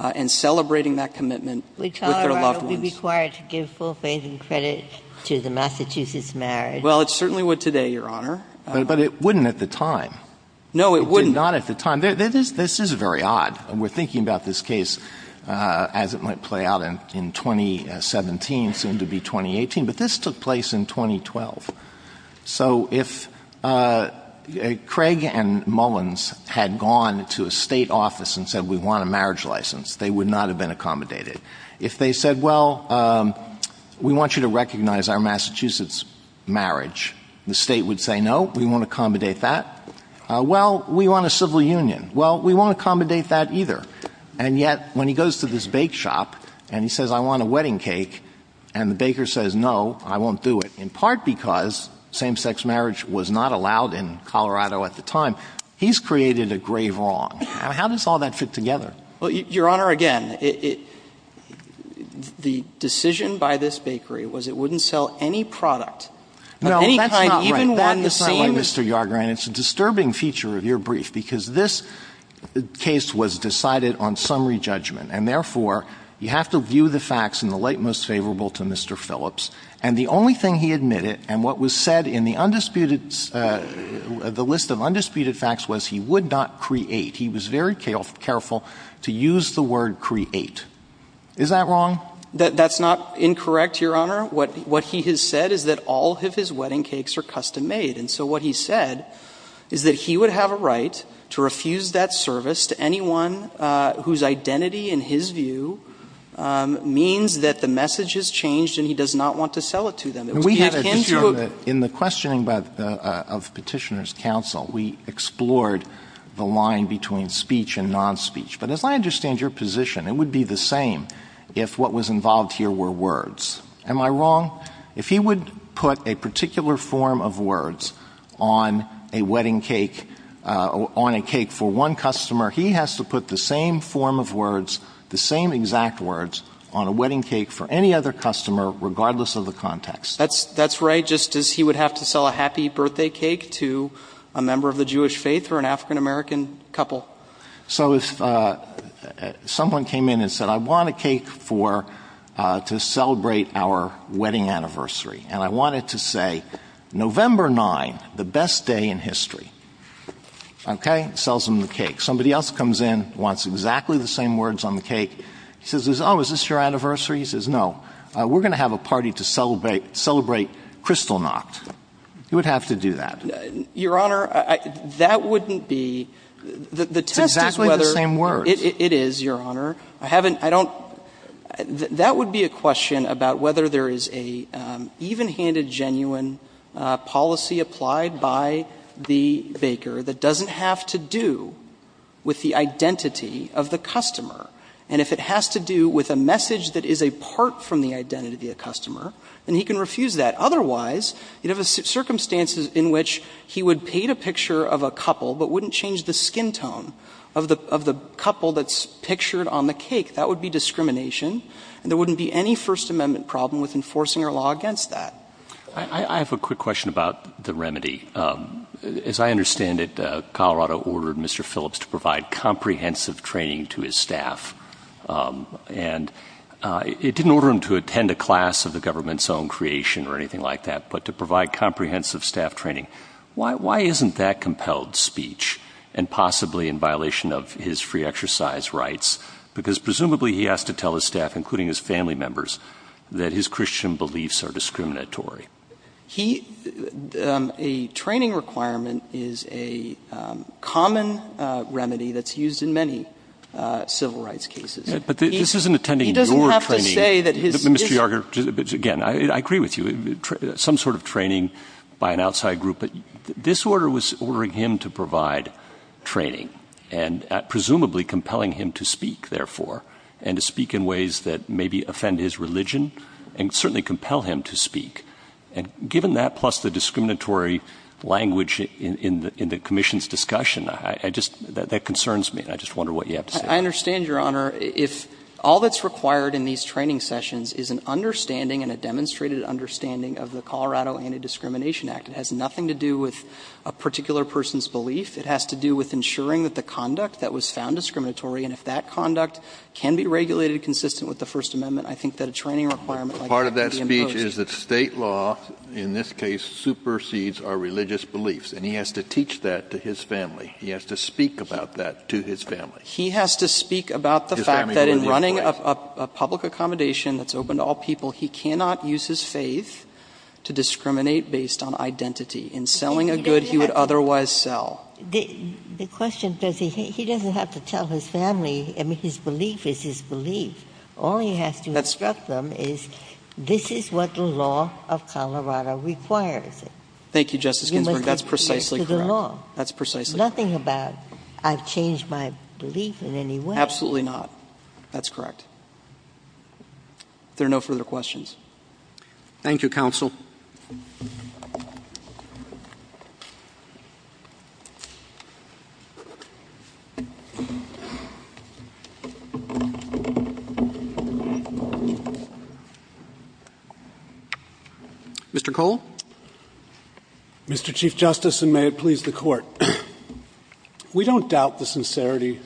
and celebrating that commitment with their loved ones. Would Colorado be required to give full faith and credit to the Massachusetts marriage? Well, it certainly would today, Your Honor. But it wouldn't at the time. No, it wouldn't not at the time. This is very odd. We're thinking about this case as it might play out in 2017, soon to be 2018, but this took place in 2012. So if Craig and Mullins had gone to a state office and said, we want a marriage license, they would not have been accommodated. If they said, well, we want you to recognize our Massachusetts marriage, the state would say, no, we won't accommodate that. Well, we want a civil union. Well, we won't accommodate that either. And yet, when he goes to this bake shop and he says, I want a wedding cake, and the baker says, no, I won't do it, in part because same-sex marriage was not allowed in Colorado at the time, he's created a grave wrong. How does all that fit together? Your Honor, again, the decision by this bakery was it wouldn't sell any product. No, that's not right. That's not right, Mr. Yargren. It's a disturbing feature of your brief because this case was decided on summary judgment, and therefore you have to view the facts in the light most favorable to Mr. Phillips. And the only thing he admitted, and what was said in the list of undisputed facts, was he would not create. He was very careful to use the word create. Is that wrong? That's not incorrect, Your Honor. What he has said is that all of his wedding cakes are custom-made. And so what he said is that he would have a right to refuse that service to anyone whose identity in his view means that the message has changed and he does not want to sell it to them. In the questioning of Petitioner's Counsel, we explored the line between speech and non-speech. But as I understand your position, it would be the same if what was involved here were words. Am I wrong? If he would put a particular form of words on a wedding cake, on a cake for one customer, he has to put the same form of words, the same exact words, on a wedding cake for any other customer regardless of the context. That's right, just as he would have to sell a happy birthday cake to a member of the Jewish faith or an African-American couple. So if someone came in and said, I want a cake to celebrate our wedding anniversary, and I want it to say, November 9th, the best day in history. Okay? Sells them the cake. Somebody else comes in, wants exactly the same words on the cake, says, oh, is this your anniversary? He says, no, we're going to have a party to celebrate Kristallnacht. He would have to do that. Your Honor, that wouldn't be... Exactly the same words. It is, Your Honor. I haven't, I don't... That would be a question about whether there is an even-handed, genuine policy applied by the baker that doesn't have to do with the identity of the customer. And if it has to do with a message that is a part from the identity of the customer, then he can refuse that. Otherwise, you'd have a circumstance in which he would paint a picture of a couple but wouldn't change the skin tone of the couple that's pictured on the cake. That would be discrimination. And there wouldn't be any First Amendment problem with enforcing our law against that. I have a quick question about the remedy. As I understand it, Colorado ordered Mr. Phillips to provide comprehensive training to his staff. And it didn't order him to attend a class of the government's own creation or anything like that, but to provide comprehensive staff training. Why isn't that compelled speech? And possibly in violation of his free exercise rights, because presumably he has to tell his staff, including his family members, that his Christian beliefs are discriminatory. He... A training requirement is a common remedy that's used in many civil rights cases. But this isn't attending your training. He doesn't have to say that his... Mr. Yarger, again, I agree with you. Some sort of training by an outside group. But this order was ordering him to provide training and presumably compelling him to speak, therefore, and to speak in ways that maybe offend his religion and certainly compel him to speak. And given that, plus the discriminatory language in the commission's discussion, I just... That concerns me, and I just wonder what you have to say. I understand, Your Honour. If all that's required in these training sessions is an understanding and a demonstrated understanding of the Colorado Anti-Discrimination Act, it has nothing to do with a particular person's belief. It has to do with ensuring that the conduct that was found discriminatory, and if that conduct can be regulated consistent with the First Amendment, I think that a training requirement... Part of that speech is that state law, in this case, supersedes our religious beliefs, and he has to teach that to his family. He has to speak about that to his family. He has to speak about the fact that in running a public accommodation that's open to all people, he cannot use his faith to discriminate based on identity. In selling a good, he would otherwise sell. The question is, he doesn't have to tell his family. I mean, his belief is his belief. All he has to instruct them is, this is what the law of Colorado requires. Thank you, Justice Ginsburg. That's precisely correct. Nothing about, I've changed my belief in any way. Absolutely not. That's correct. There are no further questions. Thank you, Counsel. Thank you. Mr. Cole? Mr. Chief Justice, and may it please the Court, we don't doubt the sincerity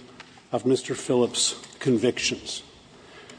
of Mr. Phillips' convictions,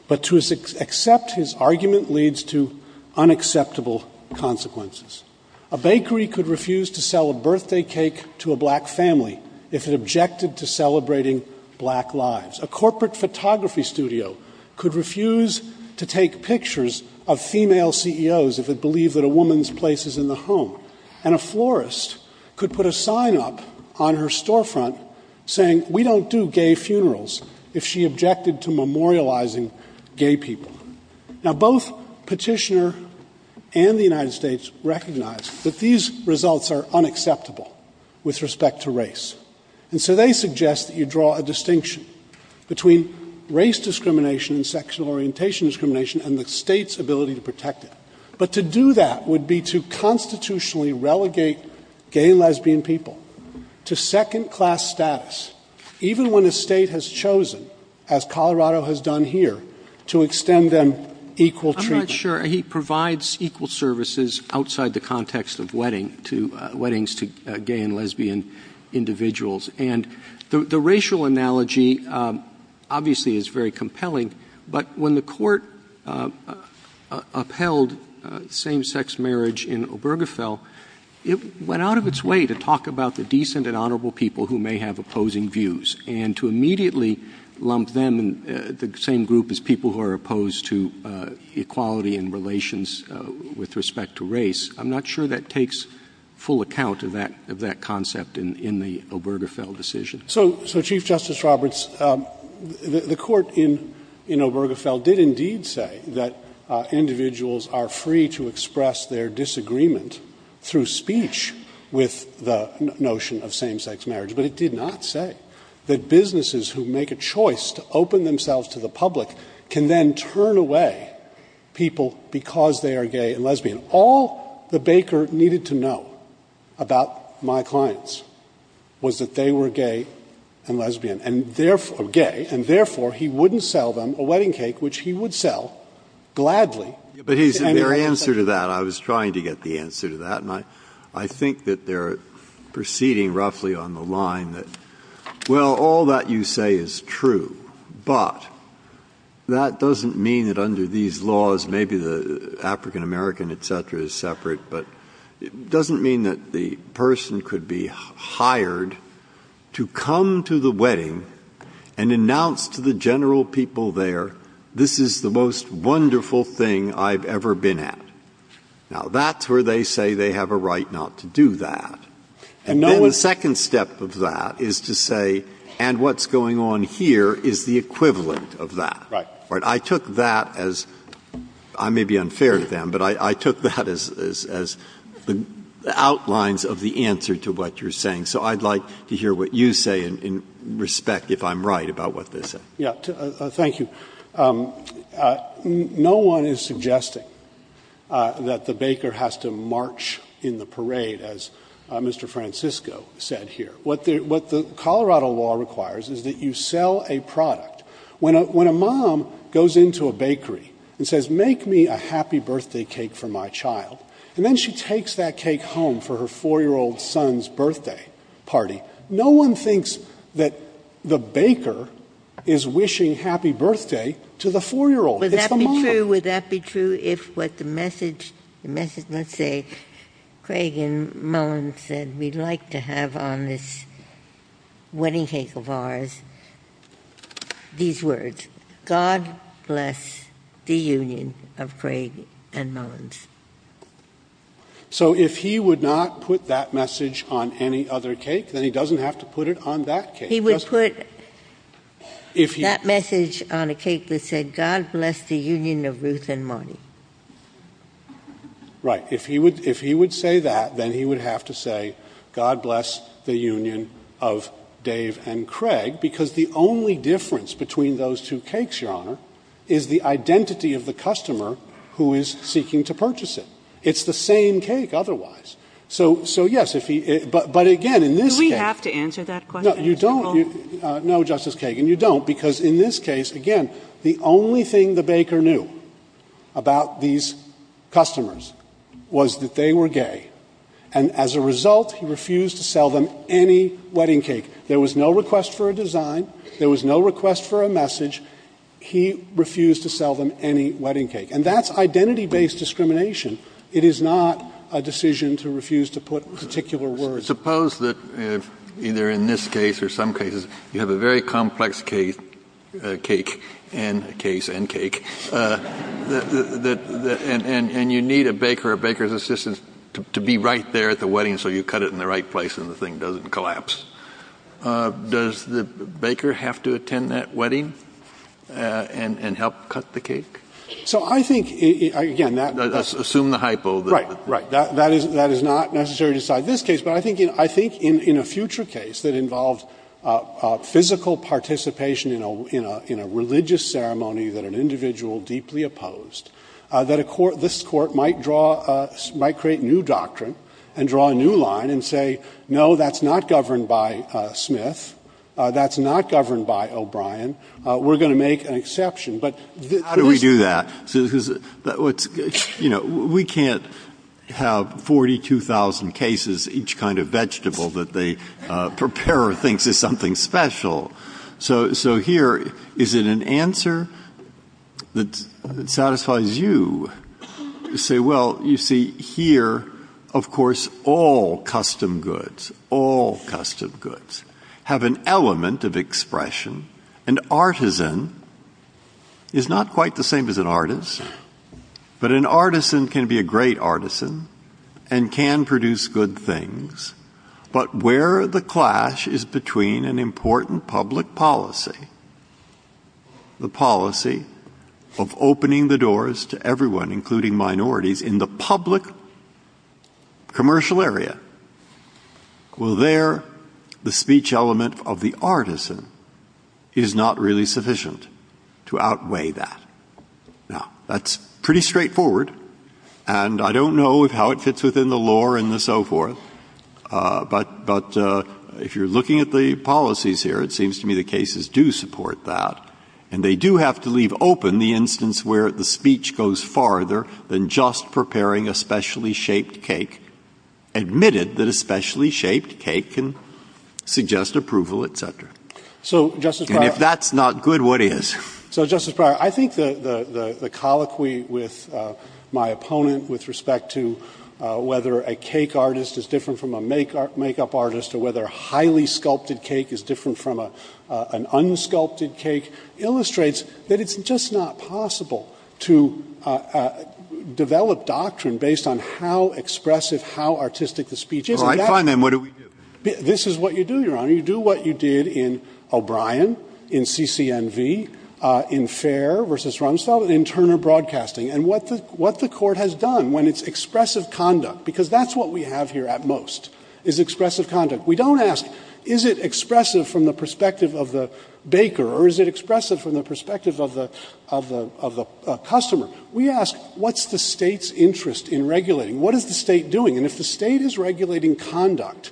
but to accept his argument leads to unacceptable consequences. A bakery could refuse to sell a birthday cake to a black family if it objected to celebrating black lives. A corporate photography studio could refuse to take pictures of female CEOs if it believed that a woman's place is in the home. And a florist could put a sign up on her storefront saying, we don't do gay funerals if she objected to memorializing gay people. Now, both Petitioner and the United States recognize that these results are unacceptable with respect to race. And so they suggest that you draw a distinction between race discrimination and sexual orientation discrimination and the state's ability to protect it. But to do that would be to constitutionally relegate gay and lesbian people to second-class status, even when the state has chosen, as Colorado has done here, to extend them equal treatment. I'm not sure. He provides equal services outside the context of weddings to gay and lesbian individuals. And the racial analogy, obviously, is very compelling. But when the Court upheld same-sex marriage in Obergefell, it went out of its way to talk about the decent and honorable people who may have opposing views and to immediately lump them in the same group as people who are opposed to equality and relations with respect to race. I'm not sure that takes full account of that concept in the Obergefell decision. So, Chief Justice Roberts, the Court in Obergefell did indeed say that individuals are free to express their disagreement through speech with the notion of same-sex marriage. But it did not say that businesses who make a choice to open themselves to the public can then turn away people because they are gay and lesbian. All the baker needed to know about my clients was that they were gay and lesbian, or gay, and therefore he wouldn't sell them a wedding cake, which he would sell, gladly. But your answer to that, I was trying to get the answer to that, and I think that they're proceeding roughly on the line that, well, all that you say is true, but that doesn't mean that under these laws, maybe the African-American, et cetera, is separate, but it doesn't mean that the person could be hired to come to the wedding and announce to the general people there, this is the most wonderful thing I've ever been at. Now, that's where they say they have a right not to do that. And then the second step of that is to say, and what's going on here is the equivalent of that. I took that as, I may be unfair to them, but I took that as the outlines of the answer to what you're saying. So I'd like to hear what you say in respect, if I'm right, about what this is. Yeah, thank you. No one is suggesting that the baker has to march in the parade, as Mr. Francisco said here. What the Colorado law requires is that you sell a product. When a mom goes into a bakery and says, make me a happy birthday cake for my child, and then she takes that cake home for her four-year-old son's birthday party, no one thinks that the baker is wishing happy birthday to the four-year-old. Would that be true if what the message must say, Craig and Mullins said, we'd like to have on this wedding cake of ours these words, God bless the union of Craig and Mullins. So if he would not put that message on any other cake, then he doesn't have to put it on that cake. He would put that message on a cake that said, God bless the union of Ruth and Marty. Right. If he would say that, then he would have to say, God bless the union of Dave and Craig, because the only difference between those two cakes, Your Honor, is the identity of the customer who is seeking to purchase it. It's the same cake otherwise. So yes, if he, but again, in this case. Do we have to answer that question? No, you don't. No, Justice Kagan, you don't. Because in this case, again, the only thing the baker knew about these customers was that they were gay. And as a result, he refused to sell them any wedding cake. There was no request for a design. There was no request for a message. He refused to sell them any wedding cake. And that's identity-based discrimination. It is not a decision to refuse to put particular words. Suppose that either in this case or some cases, you have a very complex case and cake, and you need a baker or a baker's assistant to be right there at the wedding so you cut it in the right place and the thing doesn't collapse. Does the baker have to attend that wedding and help cut the cake? So I think, again. Assume the hypo. Right, right. That is not necessary to decide this case. But I think in a future case that involves physical participation in a religious ceremony that an individual deeply opposed, that this court might create a new doctrine and draw a new line and say, no, that's not governed by Smith. That's not governed by O'Brien. We're going to make an exception. How do we do that? You know, we can't have 42,000 cases, each kind of vegetable that the preparer thinks is something special. So here, is it an answer that satisfies you? Say, well, you see here, of course, all custom goods, all custom goods have an element of expression. An artisan is not quite the same as an artist. But an artisan can be a great artisan and can produce good things. But where the clash is between an important public policy, the policy of opening the doors to everyone, including minorities, in the public commercial area, well, there the speech element of the artisan is not really sufficient to outweigh that. Now, that's pretty straightforward. And I don't know how it fits within the law and the so forth. But if you're looking at the policies here, it seems to me the cases do support that. And they do have to leave open the instance where the speech goes farther than just preparing a specially shaped cake, admitted that a specially shaped cake can suggest approval, et cetera. And if that's not good, what is? So, Justice Breyer, I think the colloquy with my opponent with respect to whether a cake artist is different from a makeup artist or whether a highly sculpted cake is different from an unsculpted cake illustrates that it's just not possible to develop doctrine based on how expressive, how artistic the speech is. All right. Fine. And what do we do? This is what you do, Your Honor. You do what you did in O'Brien, in CCNV, in Fair versus Rumsfeld, in Turner Broadcasting. And what the court has done when it's expressive conduct, because that's what we have here at most, is expressive conduct. We don't ask, is it expressive from the perspective of the baker or is it expressive from the perspective of the customer? We ask, what's the state's interest in regulating? What is the state doing? And if the state is regulating conduct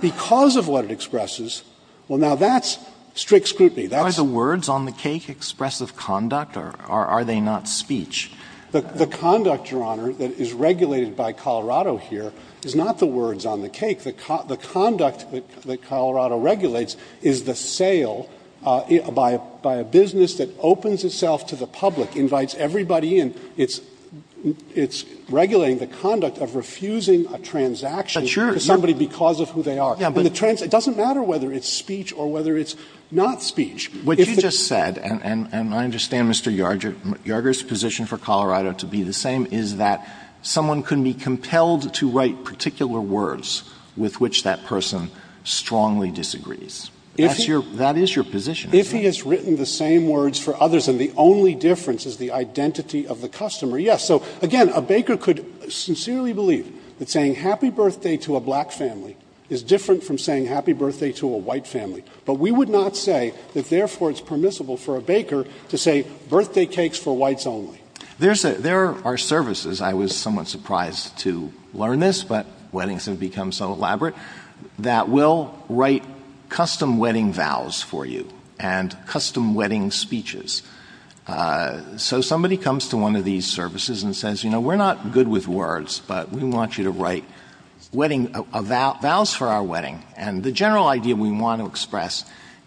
because of what it expresses, well, now that's strict scrutiny. Are the words on the cake expressive conduct or are they not speech? The conduct, Your Honor, that is regulated by Colorado here is not the words on the cake. The conduct that Colorado regulates is the sale by a business that opens itself to the public, invites everybody in. It's regulating the conduct of refusing a transaction to somebody because of who they are. It doesn't matter whether it's speech or whether it's not speech. What you just said, and I understand Mr. Yarger's position for Colorado to be the same, is that someone can be compelled to write particular words with which that person strongly disagrees. That is your position. If he has written the same words for others and the only difference is the identity of the customer, yes. So again, a baker could sincerely believe that saying happy birthday to a black family is different from saying happy birthday to a white family. But we would not say that therefore it's permissible for a baker to say birthday cakes for whites only. There are services, I was somewhat surprised to learn this, but weddings have become so elaborate, that we'll write custom wedding vows for you and custom wedding speeches. So somebody comes to one of these services and says, you know, we're not good with words, but we want you to write vows for our wedding. And the general idea we want to express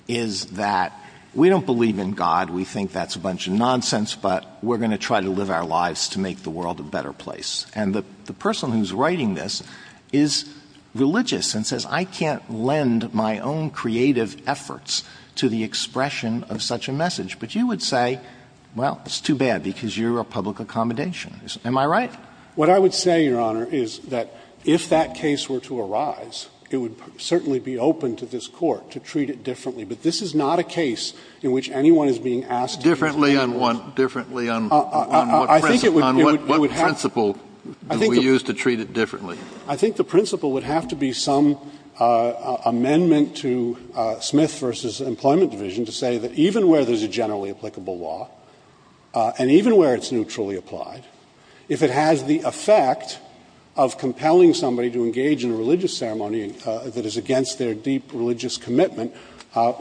is that we don't believe in God. We think that's a bunch of nonsense, but we're going to try to live our lives to make the world a better place. And the person who's writing this is religious and says, I can't lend my own creative efforts to the expression of such a message. But you would say, well, it's too bad because you're a public accommodationist. Am I right? What I would say, Your Honor, is that if that case were to arise, it would certainly be open to this court to treat it differently. But this is not a case in which anyone is being asked differently on one principle. What principle would we use to treat it differently? I think the principle would have to be some amendment to Smith v. Employment Division to say that even where there's a generally applicable law, and even where it's neutrally applied, if it has the effect of compelling somebody to engage in a religious ceremony that is against their deep religious commitment,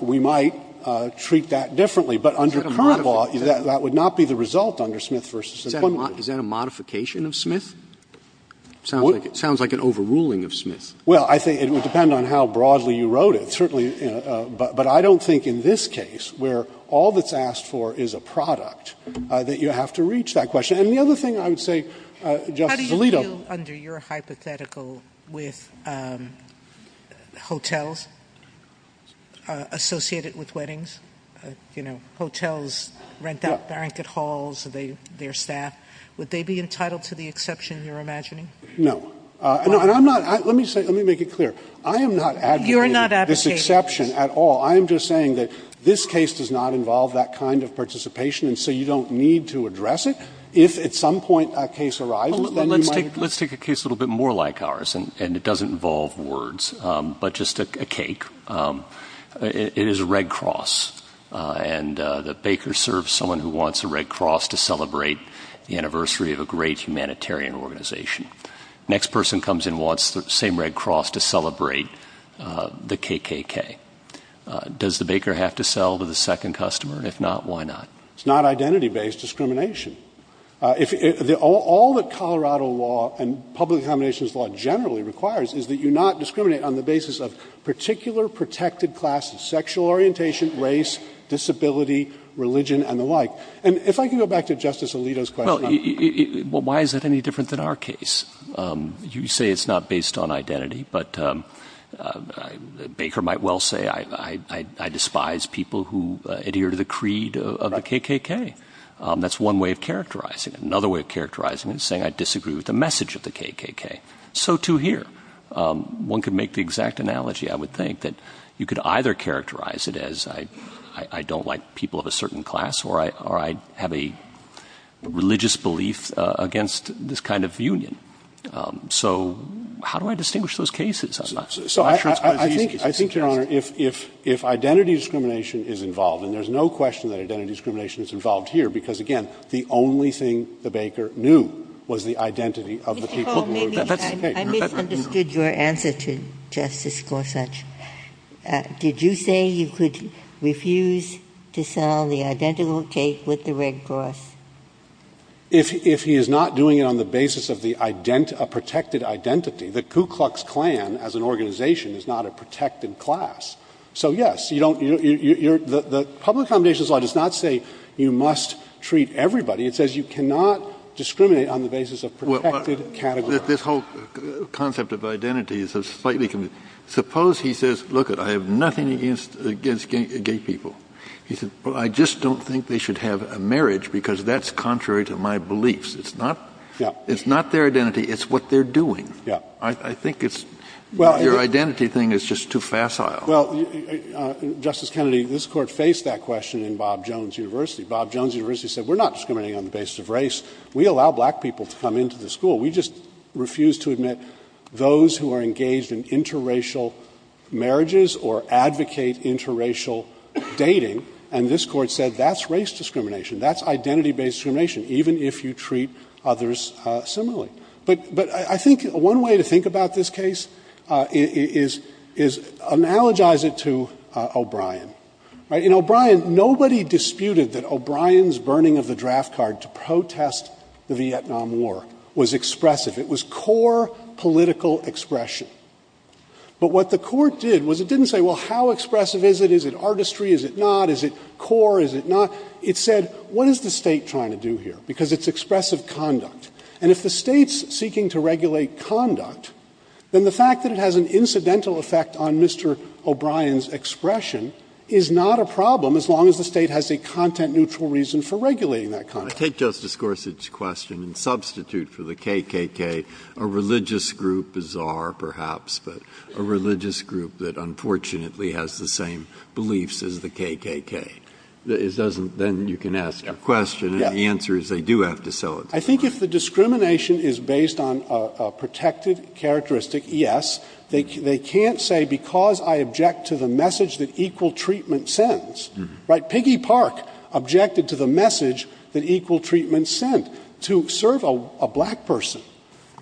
we might treat that differently. But under current law, that would not be the result under Smith v. Employment Division. Is that a modification of Smith? It sounds like an overruling of Smith. Well, I think it would depend on how broadly you wrote it. But I don't think in this case, where all that's asked for is a product, that you have to reach that question. How do you feel under your hypothetical with hotels associated with weddings? Hotels rent out blanket halls of their staff. Would they be entitled to the exception you're imagining? No. Let me make it clear. I am not advocating this exception at all. I am just saying that this case does not involve that kind of participation, so you don't need to address it. If at some point a case arises, then you might. Let's take a case a little bit more like ours, and it doesn't involve words, but just a cake. It is Red Cross, and the baker serves someone who wants the Red Cross to celebrate the anniversary of a great humanitarian organization. Next person comes in, wants the same Red Cross to celebrate the KKK. Does the baker have to sell to the second customer? If not, why not? It's not identity-based discrimination. All that Colorado law and public accommodations law generally requires is that you not discriminate on the basis of particular protected classes, sexual orientation, race, disability, religion, and the like. And if I can go back to Justice Alito's question. Well, why is that any different than our case? You say it's not based on identity. Baker might well say I despise people who adhere to the creed of the KKK. That's one way of characterizing it. Another way of characterizing it is saying I disagree with the message of the KKK. So too here. One could make the exact analogy, I would think, that you could either characterize it as I don't like people of a certain class or I have a religious belief against this kind of union. So how do I distinguish those cases? I think, Your Honor, if identity discrimination is involved, and there's no question that identity discrimination is involved here because, again, the only thing the baker knew was the identity of the people of the KKK. I misunderstood your answer to Justice Gorsuch. Did you say you could refuse to sell the identical cake with the Red Cross? If he is not doing it on the basis of a protected identity, the Ku Klux Klan, as an organization, is not a protected class. So, yes, the Public Foundations Law does not say you must treat everybody. It says you cannot discriminate on the basis of protected categories. This whole concept of identity is slightly confusing. Suppose he says, look, I have nothing against gay people. He says, well, I just don't think they should have a marriage because that's contrary to my beliefs. It's not their identity. It's what they're doing. I think your identity thing is just too facile. Well, Justice Kennedy, this Court faced that question in Bob Jones University. Bob Jones University said we're not discriminating on the basis of race. We allow black people to come into the school. We just refuse to admit those who are engaged in interracial marriages or advocate interracial dating. And this Court said that's race discrimination. That's identity-based discrimination, even if you treat others similarly. But I think one way to think about this case is analogize it to O'Brien. In O'Brien, nobody disputed that O'Brien's burning of the draft card to protest the Vietnam War was expressive. It was core political expression. But what the Court did was it didn't say, well, how expressive is it? Is it artistry? Is it not? Is it core? Is it not? It said, what is the state trying to do here? Because it's expressive conduct. And if the state's seeking to regulate conduct, then the fact that it has an incidental effect on Mr. O'Brien's expression is not a problem, as long as the state has a content-neutral reason for regulating that conduct. I take Justice Gorsuch's question and substitute for the KKK a religious group, bizarre perhaps, but a religious group that unfortunately has the same beliefs as the KKK. Then you can ask a question, and the answer is they do have to sell it. I think if the discrimination is based on a protected characteristic, yes. They can't say because I object to the message that equal treatment sends. Piggy Park objected to the message that equal treatment sent. To serve a black person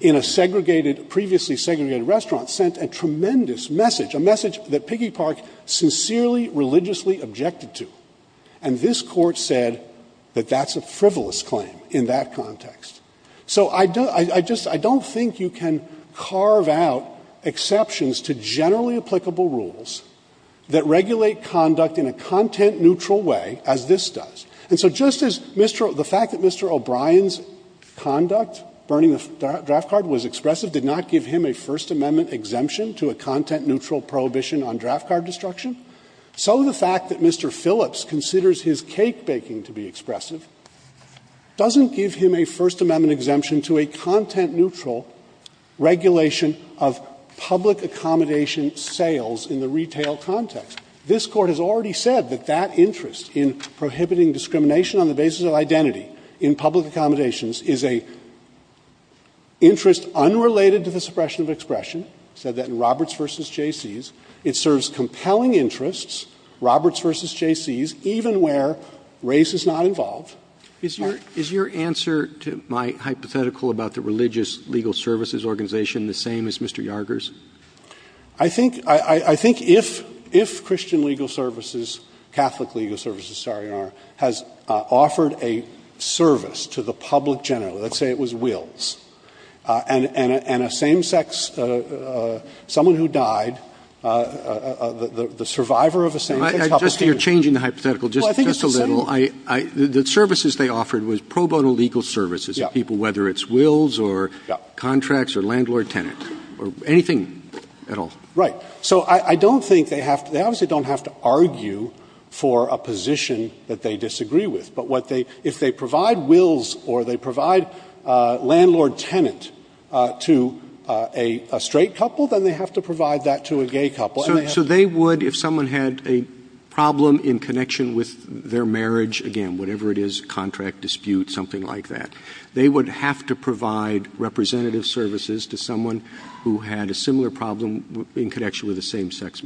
in a segregated, previously segregated restaurant sent a tremendous message, a message that Piggy Park sincerely, religiously objected to. And this court said that that's a frivolous claim in that context. So I don't think you can carve out exceptions to generally applicable rules that regulate conduct in a content-neutral way, as this does. And so just as the fact that Mr. O'Brien's conduct, burning the draft card, was expressive, did not give him a First Amendment exemption to a content-neutral prohibition on draft card destruction, so the fact that Mr. Phillips considers his cake-baking to be expressive doesn't give him a First Amendment exemption to a content-neutral regulation of public accommodation sales in the retail context. This court has already said that that interest in prohibiting discrimination on the basis of identity in public accommodations is an interest unrelated to the suppression of expression. It said that in Roberts v. Jaycees, it serves compelling interests, Roberts v. Jaycees, even where race is not involved. Is your answer to my hypothetical about the religious legal services organization the same as Mr. Yarger's? I think if Christian legal services, Catholic legal services, sorry, has offered a service to the public generally, let's say it was wills, and a same-sex, someone who died, the survivor of a same-sex couple. You're changing the hypothetical just a little. The services they offered was pro bono legal services to people, whether it's wills or contracts or landlord-tenant, or anything at all. Right. So I don't think they have to, they obviously don't have to argue for a position that they disagree with. But if they provide wills or they provide landlord-tenant to a straight couple, then they have to provide that to a gay couple. So they would, if someone had a problem in connection with their marriage, again, whatever it is, contract, dispute, something like that, they would have to provide representative services to someone who had a similar problem in connection with a same-sex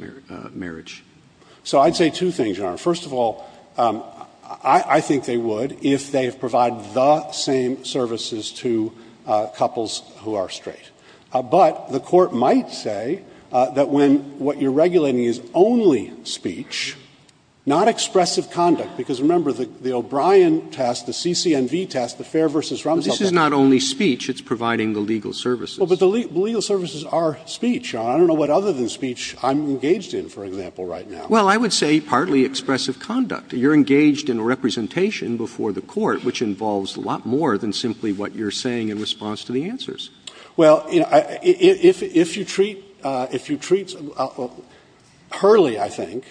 marriage. So I'd say two things, Your Honor. First of all, I think they would if they provided the same services to couples who are straight. But the court might say that when what you're regulating is only speech, not expressive conduct, because remember the O'Brien test, the CCNV test, the fair versus wrong test. But this is not only speech. It's providing the legal services. But the legal services are speech. I don't know what other than speech I'm engaged in, for example, right now. Well, I would say partly expressive conduct. You're engaged in representation before the court, which involves a lot more than simply what you're saying in response to the answers. Well, if you treat, Hurley, I think,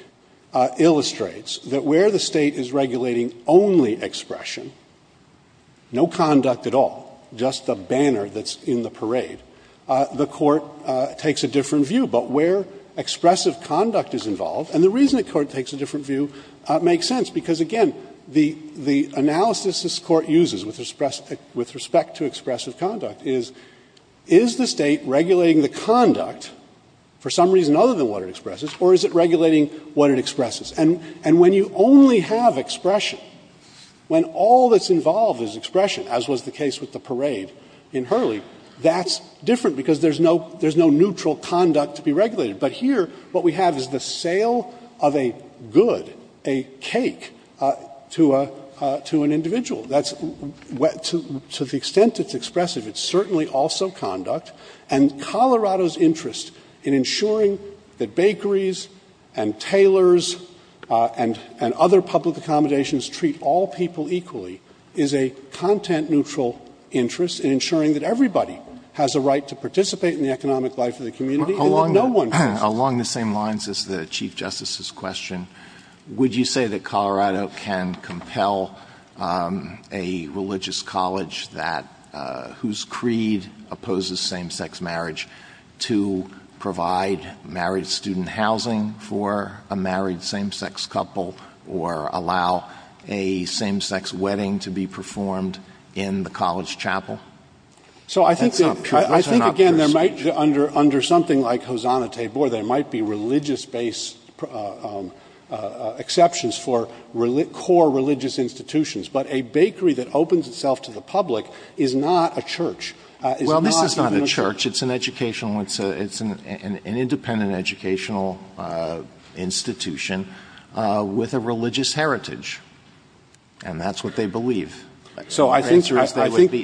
illustrates that where the state is regulating only expression, no conduct at all, just a banner that's in the parade, the court takes a different view. But where expressive conduct is involved, and the reason the court takes a different view makes sense, because, again, the analysis this court uses with respect to expressive conduct is, is the state regulating the conduct for some reason other than what it expresses, or is it regulating what it expresses? And when you only have expression, when all that's involved is expression, as was the case with the parade in Hurley, that's different because there's no neutral conduct to be regulated. But here, what we have is the sale of a good, a cake, to an individual. To the extent it's expressive, it's certainly also conduct, and Colorado's interest in ensuring that bakeries and tailors and other public accommodations treat all people equally is a content-neutral interest in ensuring that everybody has a right to participate in the economic life of the community Along the same lines as the Chief Justice's question, would you say that Colorado can compel a religious college whose creed opposes same-sex marriage to provide married student housing for a married same-sex couple or allow a same-sex wedding to be performed in the college chapel? So I think, again, under something like Hosanna-Tabor, there might be religious-based exceptions for core religious institutions, but a bakery that opens itself to the public is not a church. Well, it's not a church. It's an independent educational institution with a religious heritage. And that's what they believe. So I think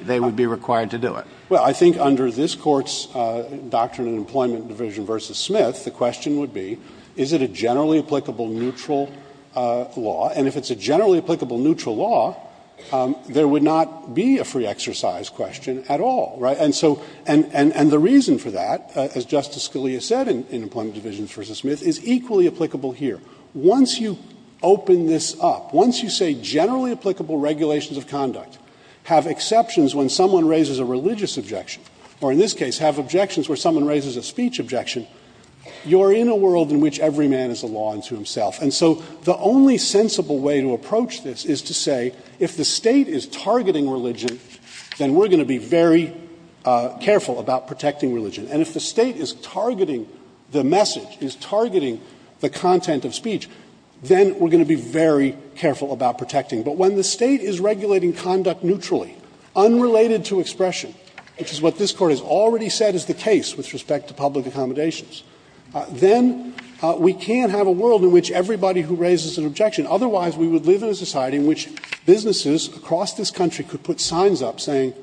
they would be required to do it. Well, I think under this Court's doctrine in Employment Division v. Smith, the question would be, is it a generally applicable neutral law? And if it's a generally applicable neutral law, there would not be a free exercise question at all. And the reason for that, as Justice Scalia said in Employment Division v. Smith, is equally applicable here. Once you open this up, once you say generally applicable regulations of conduct have exceptions when someone raises a religious objection, or in this case have objections where someone raises a speech objection, you're in a world in which every man is a law unto himself. And so the only sensible way to approach this is to say, if the state is targeting religion, then we're going to be very careful about protecting religion. And if the state is targeting the message, is targeting the content of speech, then we're going to be very careful about protecting. But when the state is regulating conduct neutrally, unrelated to expression, which is what this Court has already said is the case with respect to public accommodations, then we can't have a world in which everybody who raises an objection. Otherwise, we would live in a society in which businesses across this country could put signs up saying,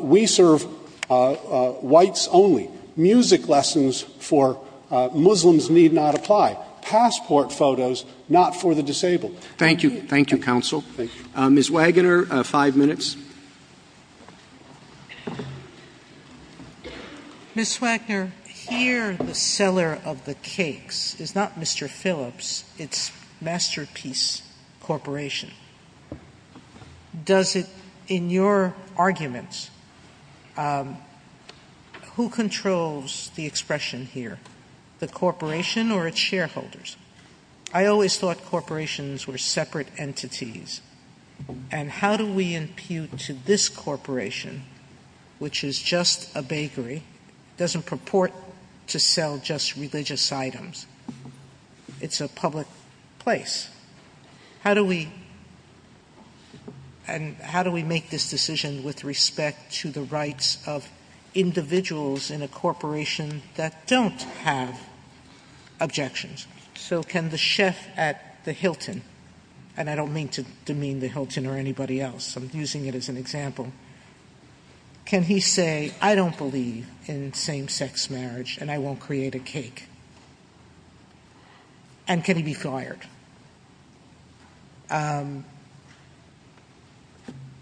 we serve whites only, music lessons for Muslims need not apply, passport photos not for the disabled. Thank you. Thank you, Counsel. Ms. Wagner, five minutes. Ms. Wagner, here the seller of the cakes is not Mr. Phillips, it's Masterpiece Corporation. In your arguments, who controls the expression here, the corporation or its shareholders? I always thought corporations were separate entities. And how do we impute to this corporation, which is just a bakery, doesn't purport to sell just religious items, it's a public place. How do we make this decision with respect to the rights of individuals in a corporation that don't have objections? So can the chef at the Hilton, and I don't mean to demean the Hilton or anybody else, I'm using it as an example, can he say, I don't believe in same-sex marriage and I won't create a cake? And can he be fired?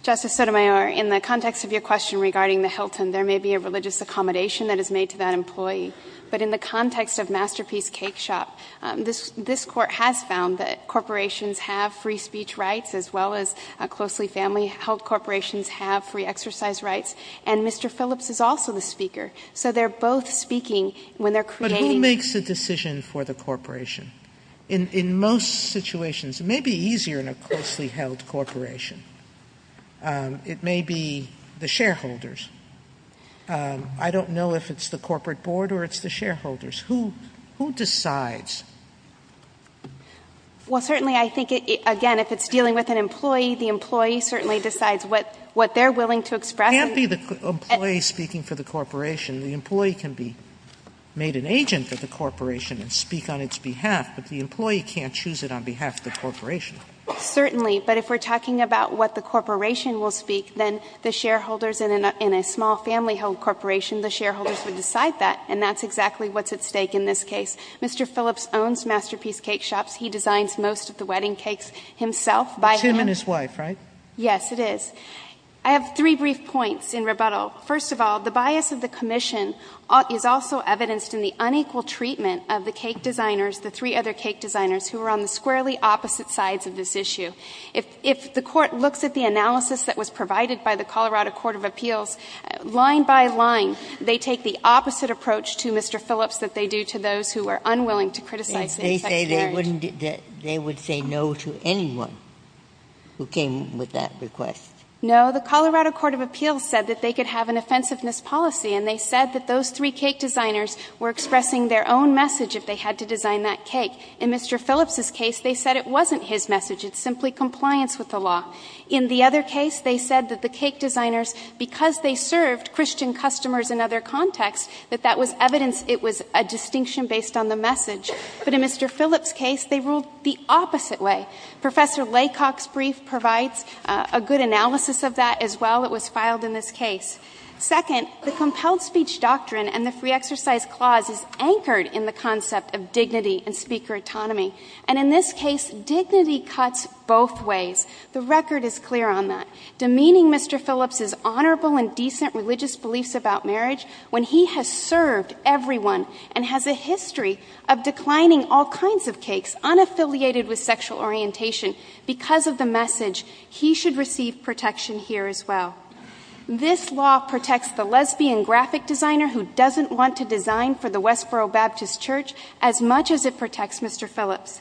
Justice Sotomayor, in the context of your question regarding the Hilton, there may be a religious accommodation that is made to that employee. But in the context of Masterpiece Cake Shop, this court has found that corporations have free speech rights as well as closely family-held corporations have free exercise rights. And Mr. Phillips is also the speaker. But who makes the decision for the corporation? In most situations, it may be easier in a closely-held corporation. It may be the shareholders. I don't know if it's the corporate board or it's the shareholders. Who decides? Well, certainly I think, again, if it's dealing with an employee, the employee certainly decides what they're willing to express. It can't be the employee speaking for the corporation. The employee can be made an agent for the corporation and speak on its behalf. But the employee can't choose it on behalf of the corporation. Certainly. But if we're talking about what the corporation will speak, then the shareholders in a small family-held corporation, the shareholders will decide that. And that's exactly what's at stake in this case. Mr. Phillips owns Masterpiece Cake Shop. He designs most of the wedding cakes himself. Him and his wife, right? Yes, it is. I have three brief points in rebuttal. First of all, the bias of the commission is also evidenced in the unequal treatment of the cake designers, the three other cake designers, who are on the squarely opposite sides of this issue. If the court looks at the analysis that was provided by the Colorado Court of Appeals, line by line, they take the opposite approach to Mr. Phillips that they do to those who are unwilling to criticize the expectations. They would say no to anyone who came with that request? No. The Colorado Court of Appeals said that they could have an offensiveness policy, and they said that those three cake designers were expressing their own message if they had to design that cake. In Mr. Phillips' case, they said it wasn't his message. It's simply compliance with the law. In the other case, they said that the cake designers, because they served Christian customers in other contexts, that that was evidence it was a distinction based on the message. But in Mr. Phillips' case, they ruled the opposite way. Professor Laycock's brief provides a good analysis of that as well. It was filed in this case. Second, the compelled speech doctrine and this re-exercise clause is anchored in the concept of dignity and speaker autonomy. And in this case, dignity cuts both ways. The record is clear on that. Demeaning Mr. Phillips' honorable and decent religious beliefs about marriage when he has served everyone and has a history of declining all kinds of cakes, unaffiliated with sexual orientation because of the message, he should receive protection here as well. This law protects the lesbian graphic designer who doesn't want to design for the Westboro Baptist Church as much as it protects Mr. Phillips.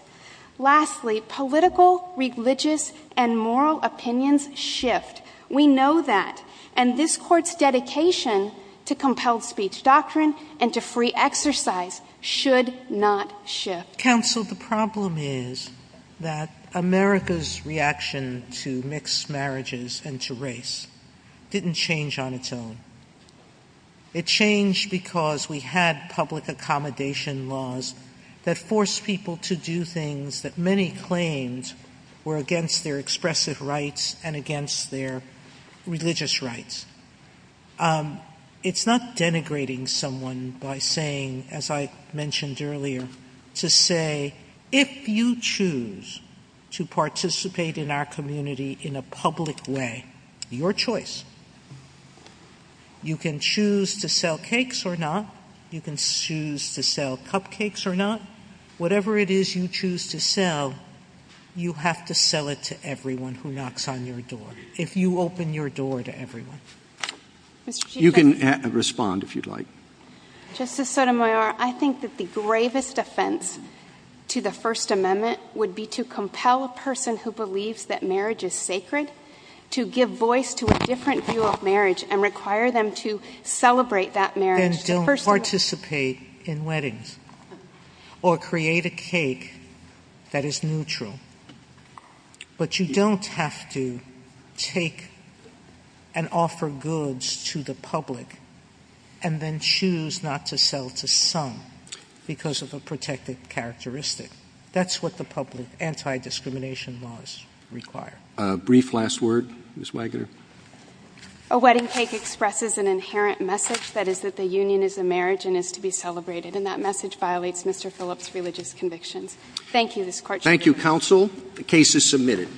Lastly, political, religious, and moral opinions shift. We know that. And this Court's dedication to compelled speech doctrines and to free exercise should not shift. Counsel, the problem is that America's reaction to mixed marriages and to race didn't change on its own. It changed because we had public accommodation laws that forced people to do things that many claimed were against their expressive rights and against their religious rights. It's not denigrating someone by saying, as I mentioned earlier, to say, if you choose to participate in our community in a public way, your choice. You can choose to sell cakes or not. You can choose to sell cupcakes or not. Whatever it is you choose to sell, you have to sell it to everyone who knocks on your door, if you open your door to everyone. You can respond if you'd like. Justice Sotomayor, I think that the gravest offense to the First Amendment would be to compel a person who believes that marriage is sacred to give voice to a different view of marriage and require them to celebrate that marriage. You can still participate in weddings or create a cake that is neutral, but you don't have to take and offer goods to the public and then choose not to sell to some because of a protected characteristic. That's what the public anti-discrimination laws require. A brief last word, Ms. Wagner. A wedding cake expresses an inherent message, that is that the union is a marriage and is to be celebrated, and that message violates Mr. Phillips' religious convictions. Thank you, Mr. Court. Thank you, counsel. The case is submitted.